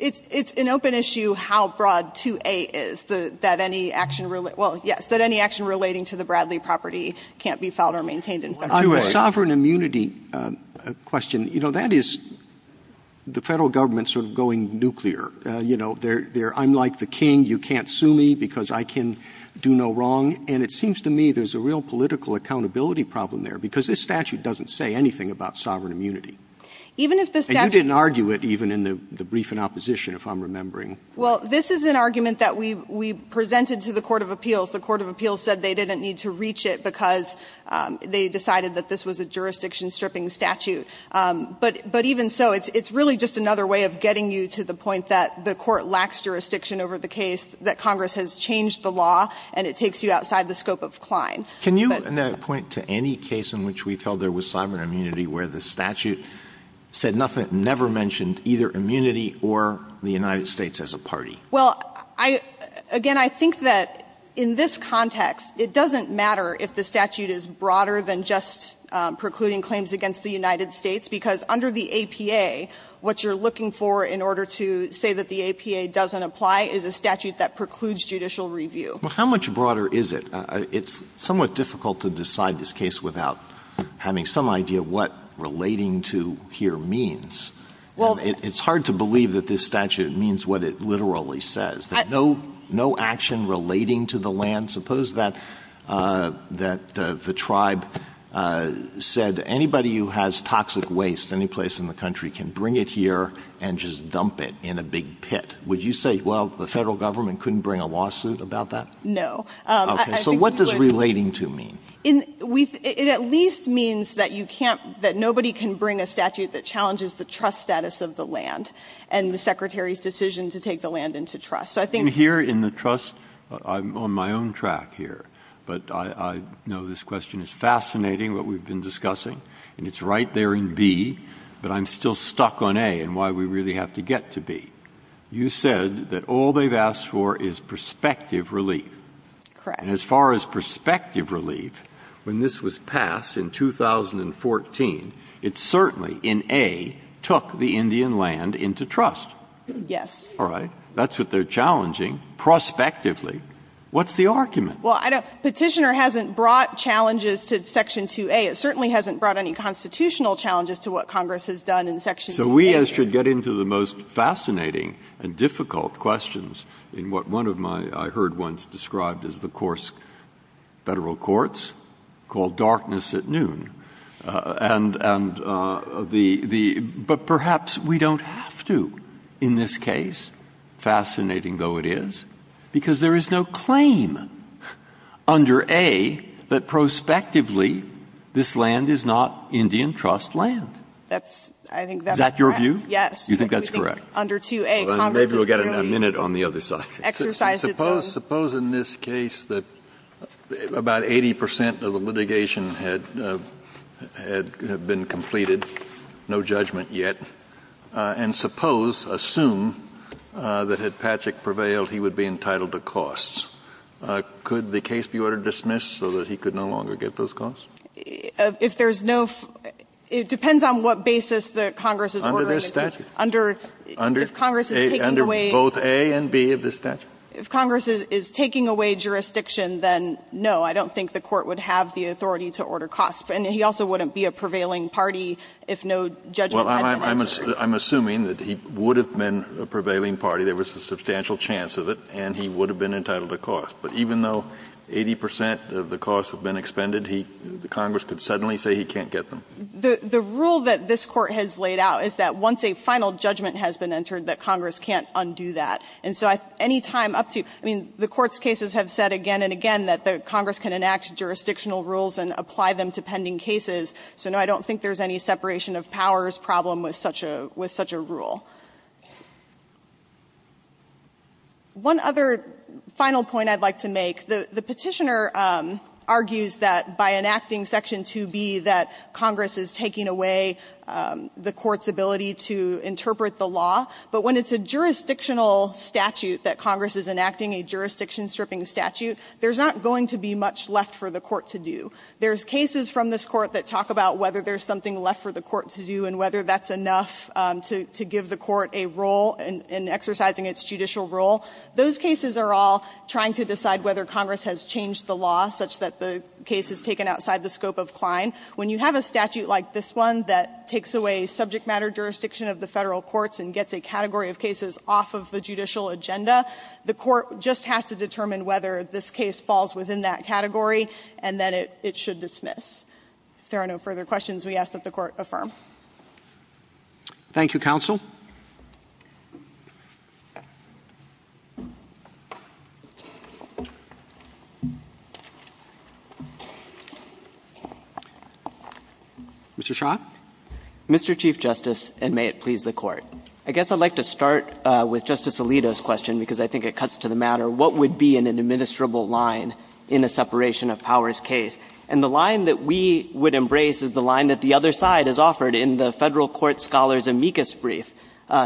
It's an open issue how broad 2A is, that any action – well, yes, that any action relating to the Bradley property can't be filed or maintained in Federal court. Roberts. Roberts. I have a sovereign immunity question. You know, that is the Federal Government sort of going nuclear. You know, they're – I'm like the king, you can't sue me because I can do no wrong. And it seems to me there's a real political accountability problem there, because this statute doesn't say anything about sovereign immunity. Even if the statute – And you didn't argue it even in the brief in opposition, if I'm remembering. Well, this is an argument that we presented to the court of appeals. The court of appeals said they didn't need to reach it because they decided that this was a jurisdiction-stripping statute. But even so, it's really just another way of getting you to the point that the court lacks jurisdiction over the case, that Congress has changed the law, and it takes you outside the scope of Klein. Can you point to any case in which we've held there was sovereign immunity where the statute said nothing, never mentioned either immunity or the United States as a party? Well, I – again, I think that in this context, it doesn't matter if the statute is broader than just precluding claims against the United States, because under the APA, what you're looking for in order to say that the APA doesn't apply is a statute that precludes judicial review. Well, how much broader is it? It's somewhat difficult to decide this case without having some idea what relating to here means. I mean, I don't know that the statute really says that no action relating to the land – suppose that the tribe said anybody who has toxic waste anyplace in the country can bring it here and just dump it in a big pit. Would you say, well, the Federal Government couldn't bring a lawsuit about that? No. I think we would – Okay. So what does relating to mean? It's the trust status of the land and the Secretary's decision to take the land into trust. So I think – And here in the trust, I'm on my own track here, but I know this question is fascinating, what we've been discussing, and it's right there in B, but I'm still stuck on A and why we really have to get to B. You said that all they've asked for is prospective relief. Correct. And as far as prospective relief, when this was passed in 2014, it certainly, in A, took the Indian land into trust. Yes. All right. That's what they're challenging, prospectively. What's the argument? Well, I don't – Petitioner hasn't brought challenges to Section 2A. It certainly hasn't brought any constitutional challenges to what Congress has done in Section 2A here. So we, as should, get into the most fascinating and difficult questions in what one of my – I heard once described as the coarse Federal courts, called darkness at noon. And the – but perhaps we don't have to in this case, fascinating though it is, because there is no claim under A that prospectively this land is not Indian trust land. That's – I think that's correct. Is that your view? Yes. You think that's correct? Under 2A, Congress has really exercised its own – Maybe we'll get it in a minute on the other side. Suppose in this case that about 80 percent of the litigation had been completed, no judgment yet, and suppose, assume, that had Patrick prevailed, he would be entitled to costs. Could the case be ordered dismissed so that he could no longer get those costs? If there's no – it depends on what basis that Congress is ordering it. Under this statute. Under – if Congress is taking away – If Congress is taking away jurisdiction, then no, I don't think the Court would have the authority to order costs. And he also wouldn't be a prevailing party if no judgment had been entered. Well, I'm assuming that he would have been a prevailing party. There was a substantial chance of it. And he would have been entitled to costs. But even though 80 percent of the costs have been expended, he – Congress could suddenly say he can't get them. The rule that this Court has laid out is that once a final judgment has been entered, that Congress can't undo that. And so any time up to – I mean, the Court's cases have said again and again that the Congress can enact jurisdictional rules and apply them to pending cases. So no, I don't think there's any separation of powers problem with such a – with such a rule. One other final point I'd like to make. The Petitioner argues that by enacting Section 2B, that Congress is taking away the Court's ability to interpret the law. But when it's a jurisdictional statute that Congress is enacting, a jurisdiction stripping statute, there's not going to be much left for the Court to do. There's cases from this Court that talk about whether there's something left for the Court to do and whether that's enough to give the Court a role in exercising its judicial role. Those cases are all trying to decide whether Congress has changed the law such that the case is taken outside the scope of Klein. When you have a statute like this one that takes away subject matter jurisdiction of the Federal courts and gets a category of cases off of the judicial agenda, the Court just has to determine whether this case falls within that category and then it should dismiss. If there are no further questions, we ask that the Court affirm. Roberts. Thank you, counsel. Mr. Shah. Mr. Chief Justice, and may it please the Court. I guess I'd like to start with Justice Alito's question, because I think it cuts to the matter what would be an administrable line in a separation of powers case. And the line that we would embrace is the line that the other side has offered in the Federal court scholar's amicus brief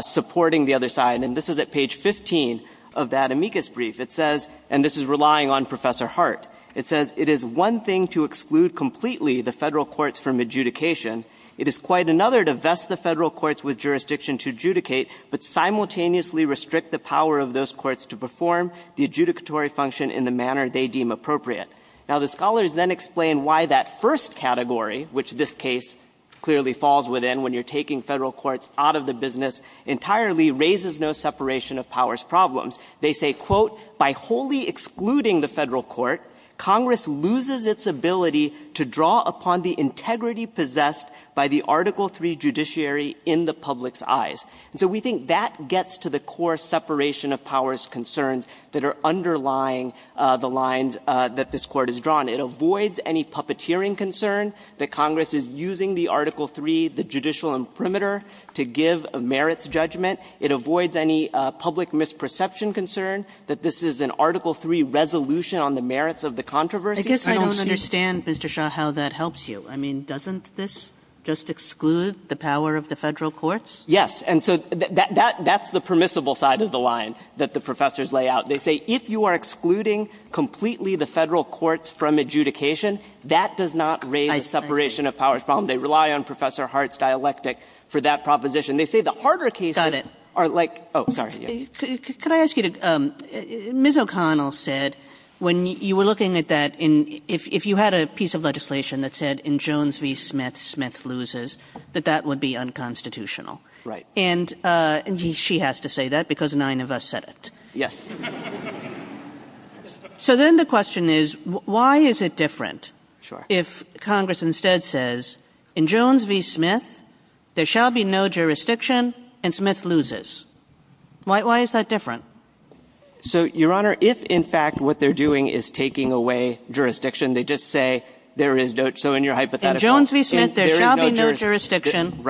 supporting the other side. And this is at page 15 of that amicus brief. It says, and this is relying on Professor Hart, it says, it is one thing to exclude completely the Federal courts from adjudication. It is quite another to vest the Federal courts with jurisdiction to adjudicate, but simultaneously restrict the power of those courts to perform the adjudicatory function in the manner they deem appropriate. Now, the scholars then explain why that first category, which this case clearly falls within when you're taking Federal courts out of the business entirely, raises no separation of powers problems. They say, quote, by wholly excluding the Federal court, Congress loses its ability to draw upon the integrity possessed by the Article III judiciary in the public's eyes. And so we think that gets to the core separation of powers concerns that are underlying the lines that this Court has drawn. It avoids any puppeteering concern that Congress is using the Article III, the judicial imprimatur, to give a merits judgment. It avoids any public misperception concern that this is an Article III resolution on the merits of the controversy. Kagan. Kagan. Sotomayor, I guess I don't understand, Mr. Shah, how that helps you. I mean, doesn't this just exclude the power of the Federal courts? Shah. Yes. And so that's the permissible side of the line that the professors lay out. They say if you are excluding completely the Federal courts from adjudication, that does not raise the separation of powers problem. They rely on Professor Hart's dialectic for that proposition. They say the harder cases are like, sorry, yeah. But when you were looking at that, if you had a piece of legislation that said, in Jones v. Smith, Smith loses, that that would be unconstitutional. Right. And she has to say that, because nine of us said it. Yes. So then the question is, why is it different if Congress instead says, in Jones v. Smith, there shall be no jurisdiction, and Smith loses? Why is that different? So, Your Honor, if, in fact, what they're doing is taking away jurisdiction, they just say, there is no – so in your hypothetical, there is no jurisdiction. In Jones v. Smith, there shall be no jurisdiction,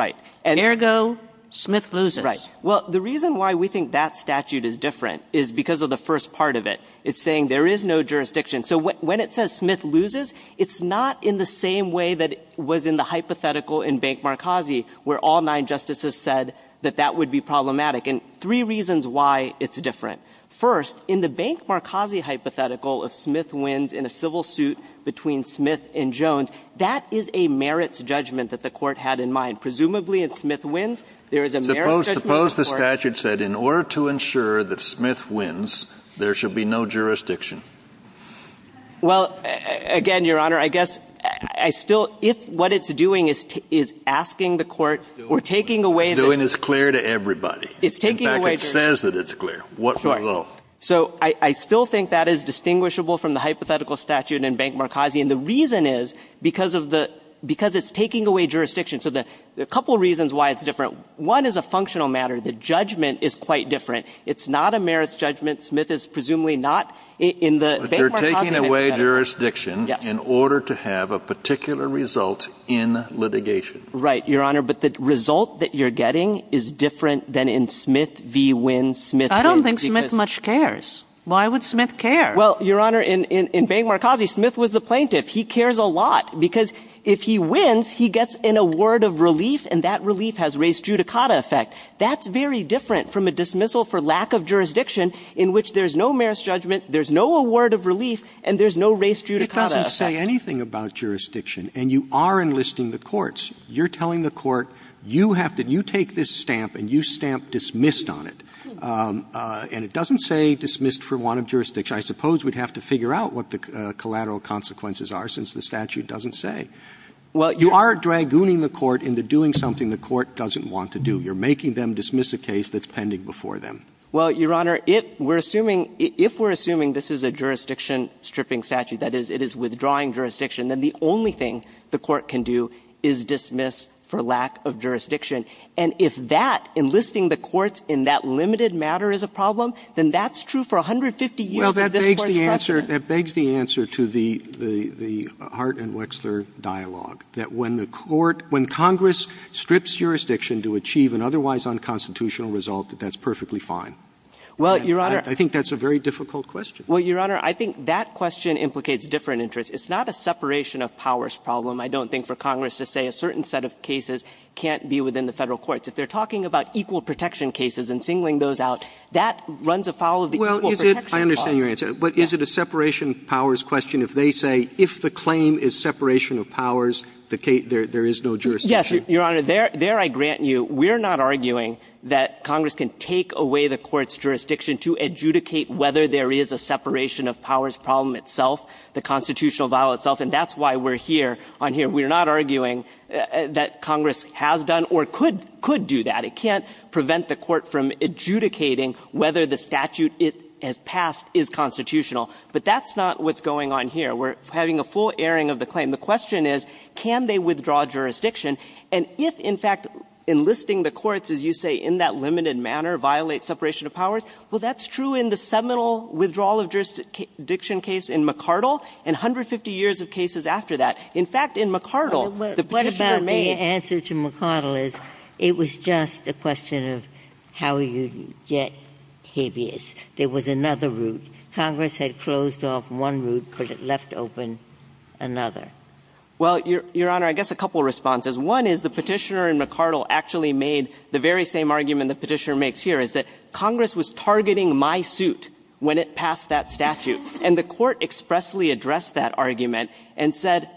ergo, Smith loses. Right. Well, the reason why we think that statute is different is because of the first part of it. It's saying there is no jurisdiction. So when it says Smith loses, it's not in the same way that it was in the hypothetical in Bank Markazi, where all nine justices said that that would be problematic. And three reasons why it's different. First, in the Bank Markazi hypothetical, if Smith wins in a civil suit between Smith and Jones, that is a merits judgment that the Court had in mind. Presumably, if Smith wins, there is a merits judgment in the Court. Suppose the statute said, in order to ensure that Smith wins, there shall be no jurisdiction. Well, again, Your Honor, I guess I still – if what it's doing is asking the Court or taking away the – What it's doing is clear to everybody. In fact, it says that it's clear. What below? So I still think that is distinguishable from the hypothetical statute in Bank Markazi. And the reason is because of the – because it's taking away jurisdiction. So a couple reasons why it's different. One is a functional matter. The judgment is quite different. It's not a merits judgment. Smith is presumably not in the Bank Markazi hypothetical. But you're taking away jurisdiction in order to have a particular result in litigation. Right, Your Honor. But the result that you're getting is different than in Smith v. Wynn. Smith wins because – I don't think Smith much cares. Why would Smith care? Well, Your Honor, in Bank Markazi, Smith was the plaintiff. He cares a lot. Because if he wins, he gets an award of relief, and that relief has res judicata effect. That's very different from a dismissal for lack of jurisdiction in which there's no merits judgment, there's no award of relief, and there's no res judicata effect. It doesn't say anything about jurisdiction. And you are enlisting the courts. You're telling the court, you have to – you take this stamp and you stamp dismissed on it. And it doesn't say dismissed for want of jurisdiction. I suppose we'd have to figure out what the collateral consequences are, since the statute doesn't say. You are dragooning the court into doing something the court doesn't want to do. You're making them dismiss a case that's pending before them. Well, Your Honor, it – we're assuming – if we're assuming this is a jurisdiction stripping statute, that is, it is withdrawing jurisdiction, then the only thing the court can do is dismiss for lack of jurisdiction. And if that, enlisting the courts in that limited matter, is a problem, then that's true for 150 years of this Court's precedent. Well, that begs the answer – that begs the answer to the Hart and Wexler dialogue, that when the court – when Congress strips jurisdiction to achieve an otherwise unconstitutional result, that that's perfectly fine. Well, Your Honor – I think that's a very difficult question. Well, Your Honor, I think that question implicates different interests. It's not a separation of powers problem. I don't think for Congress to say a certain set of cases can't be within the Federal courts. If they're talking about equal protection cases and singling those out, that runs afoul of the equal protection clause. Well, is it – I understand your answer. But is it a separation of powers question if they say if the claim is separation of powers, the case – there is no jurisdiction? Yes, Your Honor. There – there, I grant you, we're not arguing that Congress can take away the Court's jurisdiction to adjudicate whether there is a separation of powers problem itself, the constitutional vial itself. And that's why we're here on here. We're not arguing that Congress has done or could – could do that. It can't prevent the Court from adjudicating whether the statute it has passed is constitutional. But that's not what's going on here. We're having a full airing of the claim. The question is, can they withdraw jurisdiction? And if, in fact, enlisting the courts, as you say, in that limited manner, violates separation of powers, well, that's true in the seminal withdrawal of jurisdiction case in McArdle, and 150 years of cases after that. In fact, in McArdle, the Petitioner made – Ginsburg. What about the answer to McArdle is, it was just a question of how you get habeas. There was another route. Congress had closed off one route, but it left open another. Well, Your Honor, I guess a couple of responses. One is the Petitioner in McArdle actually made the very same argument the Petitioner makes here, is that Congress was targeting my suit when it passed that statute. And the Court expressly addressed that argument and said,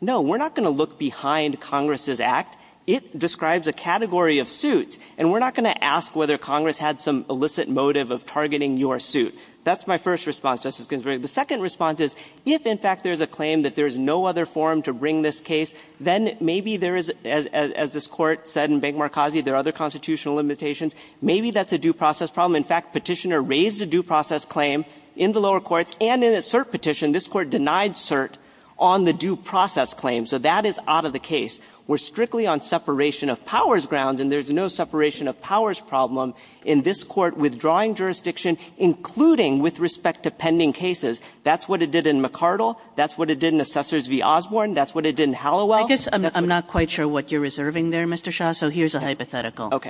no, we're not going to look behind Congress's act. It describes a category of suits, and we're not going to ask whether Congress had some illicit motive of targeting your suit. That's my first response, Justice Ginsburg. The second response is, if, in fact, there's a claim that there's no other forum to bring this case, then maybe there is, as this Court said in Bank-Marcazi, there are other constitutional limitations. Maybe that's a due process problem. In fact, Petitioner raised a due process claim in the lower courts, and in a cert petition, this Court denied cert on the due process claim, so that is out of the case. We're strictly on separation of powers grounds, and there's no separation of powers problem in this Court withdrawing jurisdiction, including with respect to pending cases. That's what it did in McArdle. That's what it did in Assessors v. Osborne. That's what it did in Halliwell. That's what it did in the other courts. Kagan. Kagan. Kagan. Kagan. Kagan. Kagan. Kagan. Kagan. Kagan.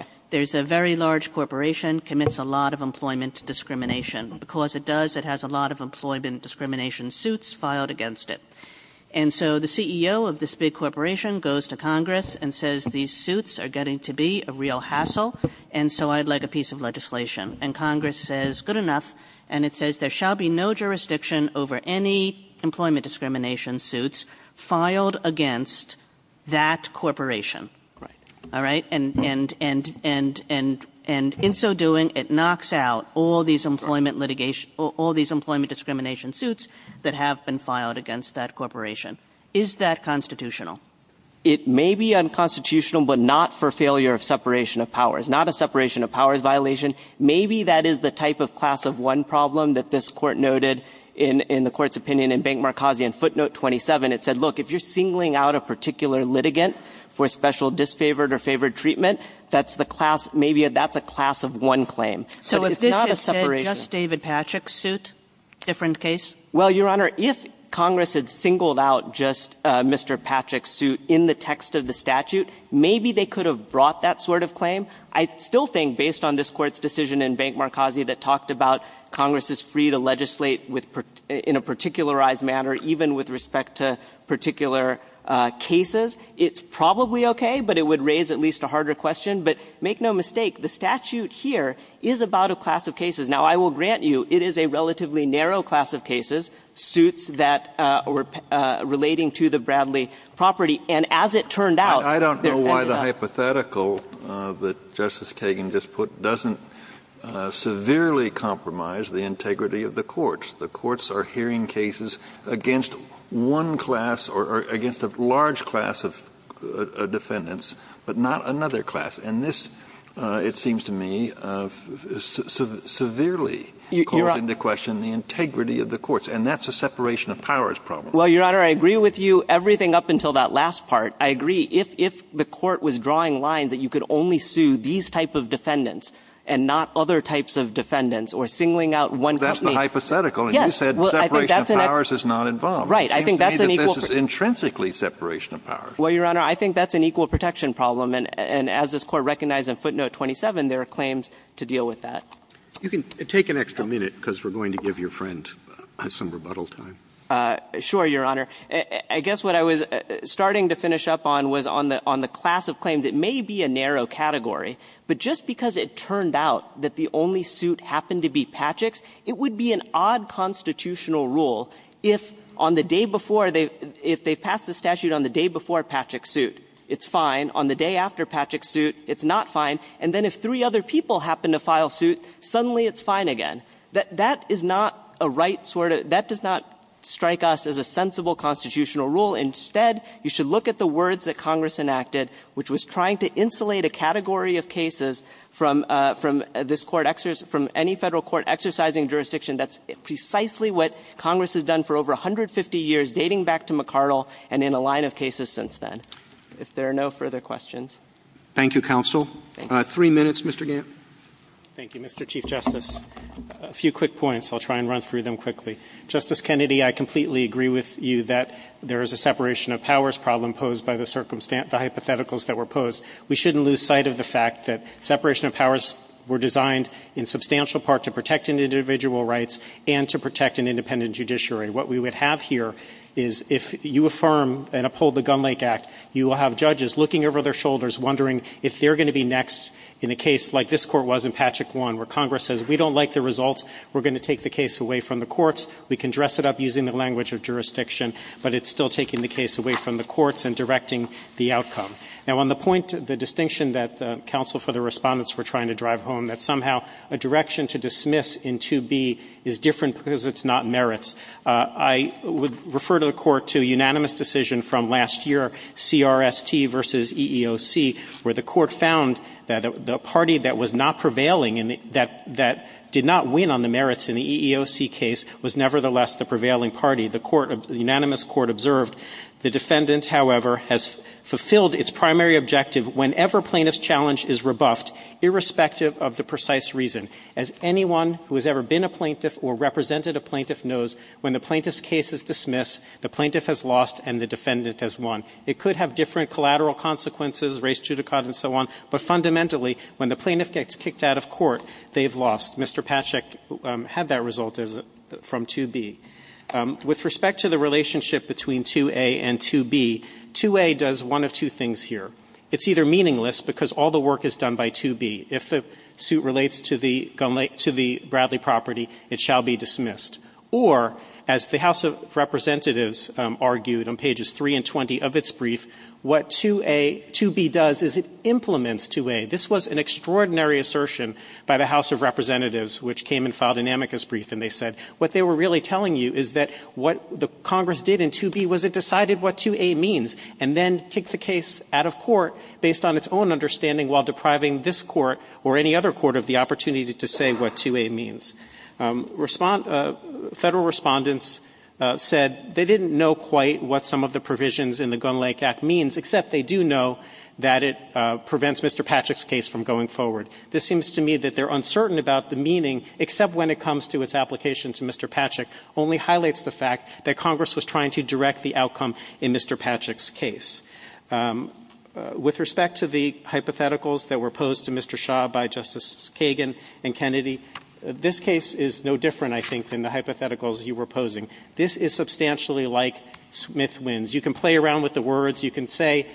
Kagan. A lot of employment discrimination, because it does, it has a lot of employment discrimination suits filed against it. And so the CEO of this big corporation goes to Congress and says these suits are getting to be a real hassle, and so I'd like a piece of legislation. And Congress says, good enough. And it says, there shall be no jurisdiction over any employment discrimination suits filed against that corporation. All right, and in so doing, it knocks out all these employment discrimination suits that have been filed against that corporation. Is that constitutional? It may be unconstitutional, but not for failure of separation of powers, not a separation of powers violation. Maybe that is the type of class of one problem that this court noted in the court's opinion in Bank Markazian footnote 27. It said, look, if you're singling out a particular litigant for special disfavored or favored treatment, that's the class, maybe that's a class of one claim. So it's not a separation. So if this had said just David Patrick's suit, different case? Well, Your Honor, if Congress had singled out just Mr. Patrick's suit in the text of the statute, maybe they could have brought that sort of claim. I still think, based on this Court's decision in Bank Markazian that talked about Congress is free to legislate in a particularized manner, even with respect to particular cases. It's probably okay, but it would raise at least a harder question. But make no mistake, the statute here is about a class of cases. Now, I will grant you, it is a relatively narrow class of cases, suits that were relating to the Bradley property. And as it turned out- Justice Kagan just put, doesn't severely compromise the integrity of the courts. The courts are hearing cases against one class or against a large class of defendants, but not another class. And this, it seems to me, severely calls into question the integrity of the courts. And that's a separation of powers problem. Well, Your Honor, I agree with you everything up until that last part. I agree, if the Court was drawing lines that you could only sue these type of defendants and not other types of defendants, or singling out one company- But that's the hypothetical, and you said separation of powers is not involved. Right. I think that's an equal- It seems to me that this is intrinsically separation of powers. Well, Your Honor, I think that's an equal protection problem. And as this Court recognized in footnote 27, there are claims to deal with that. You can take an extra minute, because we're going to give your friend some rebuttal time. Sure, Your Honor. I guess what I was starting to finish up on was on the class of claims. It may be a narrow category, but just because it turned out that the only suit happened to be Patrick's, it would be an odd constitutional rule if on the day before they – if they pass the statute on the day before Patrick's suit, it's fine. On the day after Patrick's suit, it's not fine. And then if three other people happen to file suit, suddenly it's fine again. That is not a right sort of – that does not strike us as a sensible constitutional rule. Instead, you should look at the words that Congress enacted, which was trying to insulate a category of cases from this Court – from any Federal court exercising jurisdiction. That's precisely what Congress has done for over 150 years, dating back to McArdle and in a line of cases since then. If there are no further questions. Thank you, counsel. Three minutes, Mr. Gant. Thank you, Mr. Chief Justice. A few quick points. I'll try and run through them quickly. Justice Kennedy, I completely agree with you that there is a separation of powers problem posed by the hypotheticals that were posed. We shouldn't lose sight of the fact that separation of powers were designed in substantial part to protect an individual's rights and to protect an independent judiciary. What we would have here is if you affirm and uphold the Gun Lake Act, you will have judges looking over their shoulders wondering if they're going to be next in a case like this Court was in Patchak 1, where Congress says, we don't like the results. We're going to take the case away from the courts. We can dress it up using the language of jurisdiction, but it's still taking the case away from the courts and directing the outcome. Now, on the point, the distinction that the counsel for the respondents were trying to drive home, that somehow a direction to dismiss in 2B is different because it's not merits. I would refer to the Court to a unanimous decision from last year, CRST v. EEOC, where the Court found that the party that was not prevailing and that did not win on the merits in the EEOC case was nevertheless the prevailing party. The unanimous Court observed, the defendant, however, has fulfilled its primary objective whenever plaintiff's challenge is rebuffed, irrespective of the precise reason. As anyone who has ever been a plaintiff or represented a plaintiff knows, when the plaintiff's case is dismissed, the plaintiff has lost and the defendant has won. It could have different collateral consequences, race judicata and so on, but fundamentally when the plaintiff gets kicked out of court, they've lost. Mr. Pacek had that result from 2B. With respect to the relationship between 2A and 2B, 2A does one of two things here. It's either meaningless because all the work is done by 2B. If the suit relates to the Bradley property, it shall be dismissed. Or, as the House of Representatives argued on pages 3 and 20 of its brief, what 2A – 2B does is it implements 2A. This was an extraordinary assertion by the House of Representatives, which came in file dynamic as brief, and they said what they were really telling you is that what the Congress did in 2B was it decided what 2A means and then kicked the case out of court based on its own understanding while depriving this Court or any other Court of the opportunity to say what 2A means. Federal Respondents said they didn't know quite what some of the provisions in the Gunn-Lake Act means, except they do know that it prevents Mr. Pacek's case from going forward. This seems to me that they're uncertain about the meaning, except when it comes to its application to Mr. Pacek, only highlights the fact that Congress was trying to direct the outcome in Mr. Pacek's case. With respect to the hypotheticals that were posed to Mr. Shah by Justices Kagan and Kennedy, this case is no different, I think, than the hypotheticals you were posing. This is substantially like Smith wins. You can play around with the words. You can say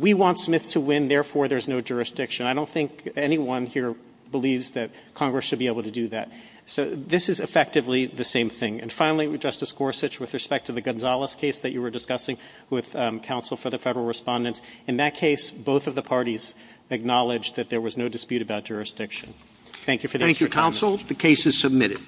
we want Smith to win, therefore there's no jurisdiction. I don't think anyone here believes that Congress should be able to do that. So this is effectively the same thing. And finally, Justice Gorsuch, with respect to the Gonzales case that you were discussing with counsel for the Federal Respondents, in that case, both of the parties acknowledged that there was no dispute about jurisdiction. Thank you for the extra time. Thank you, counsel.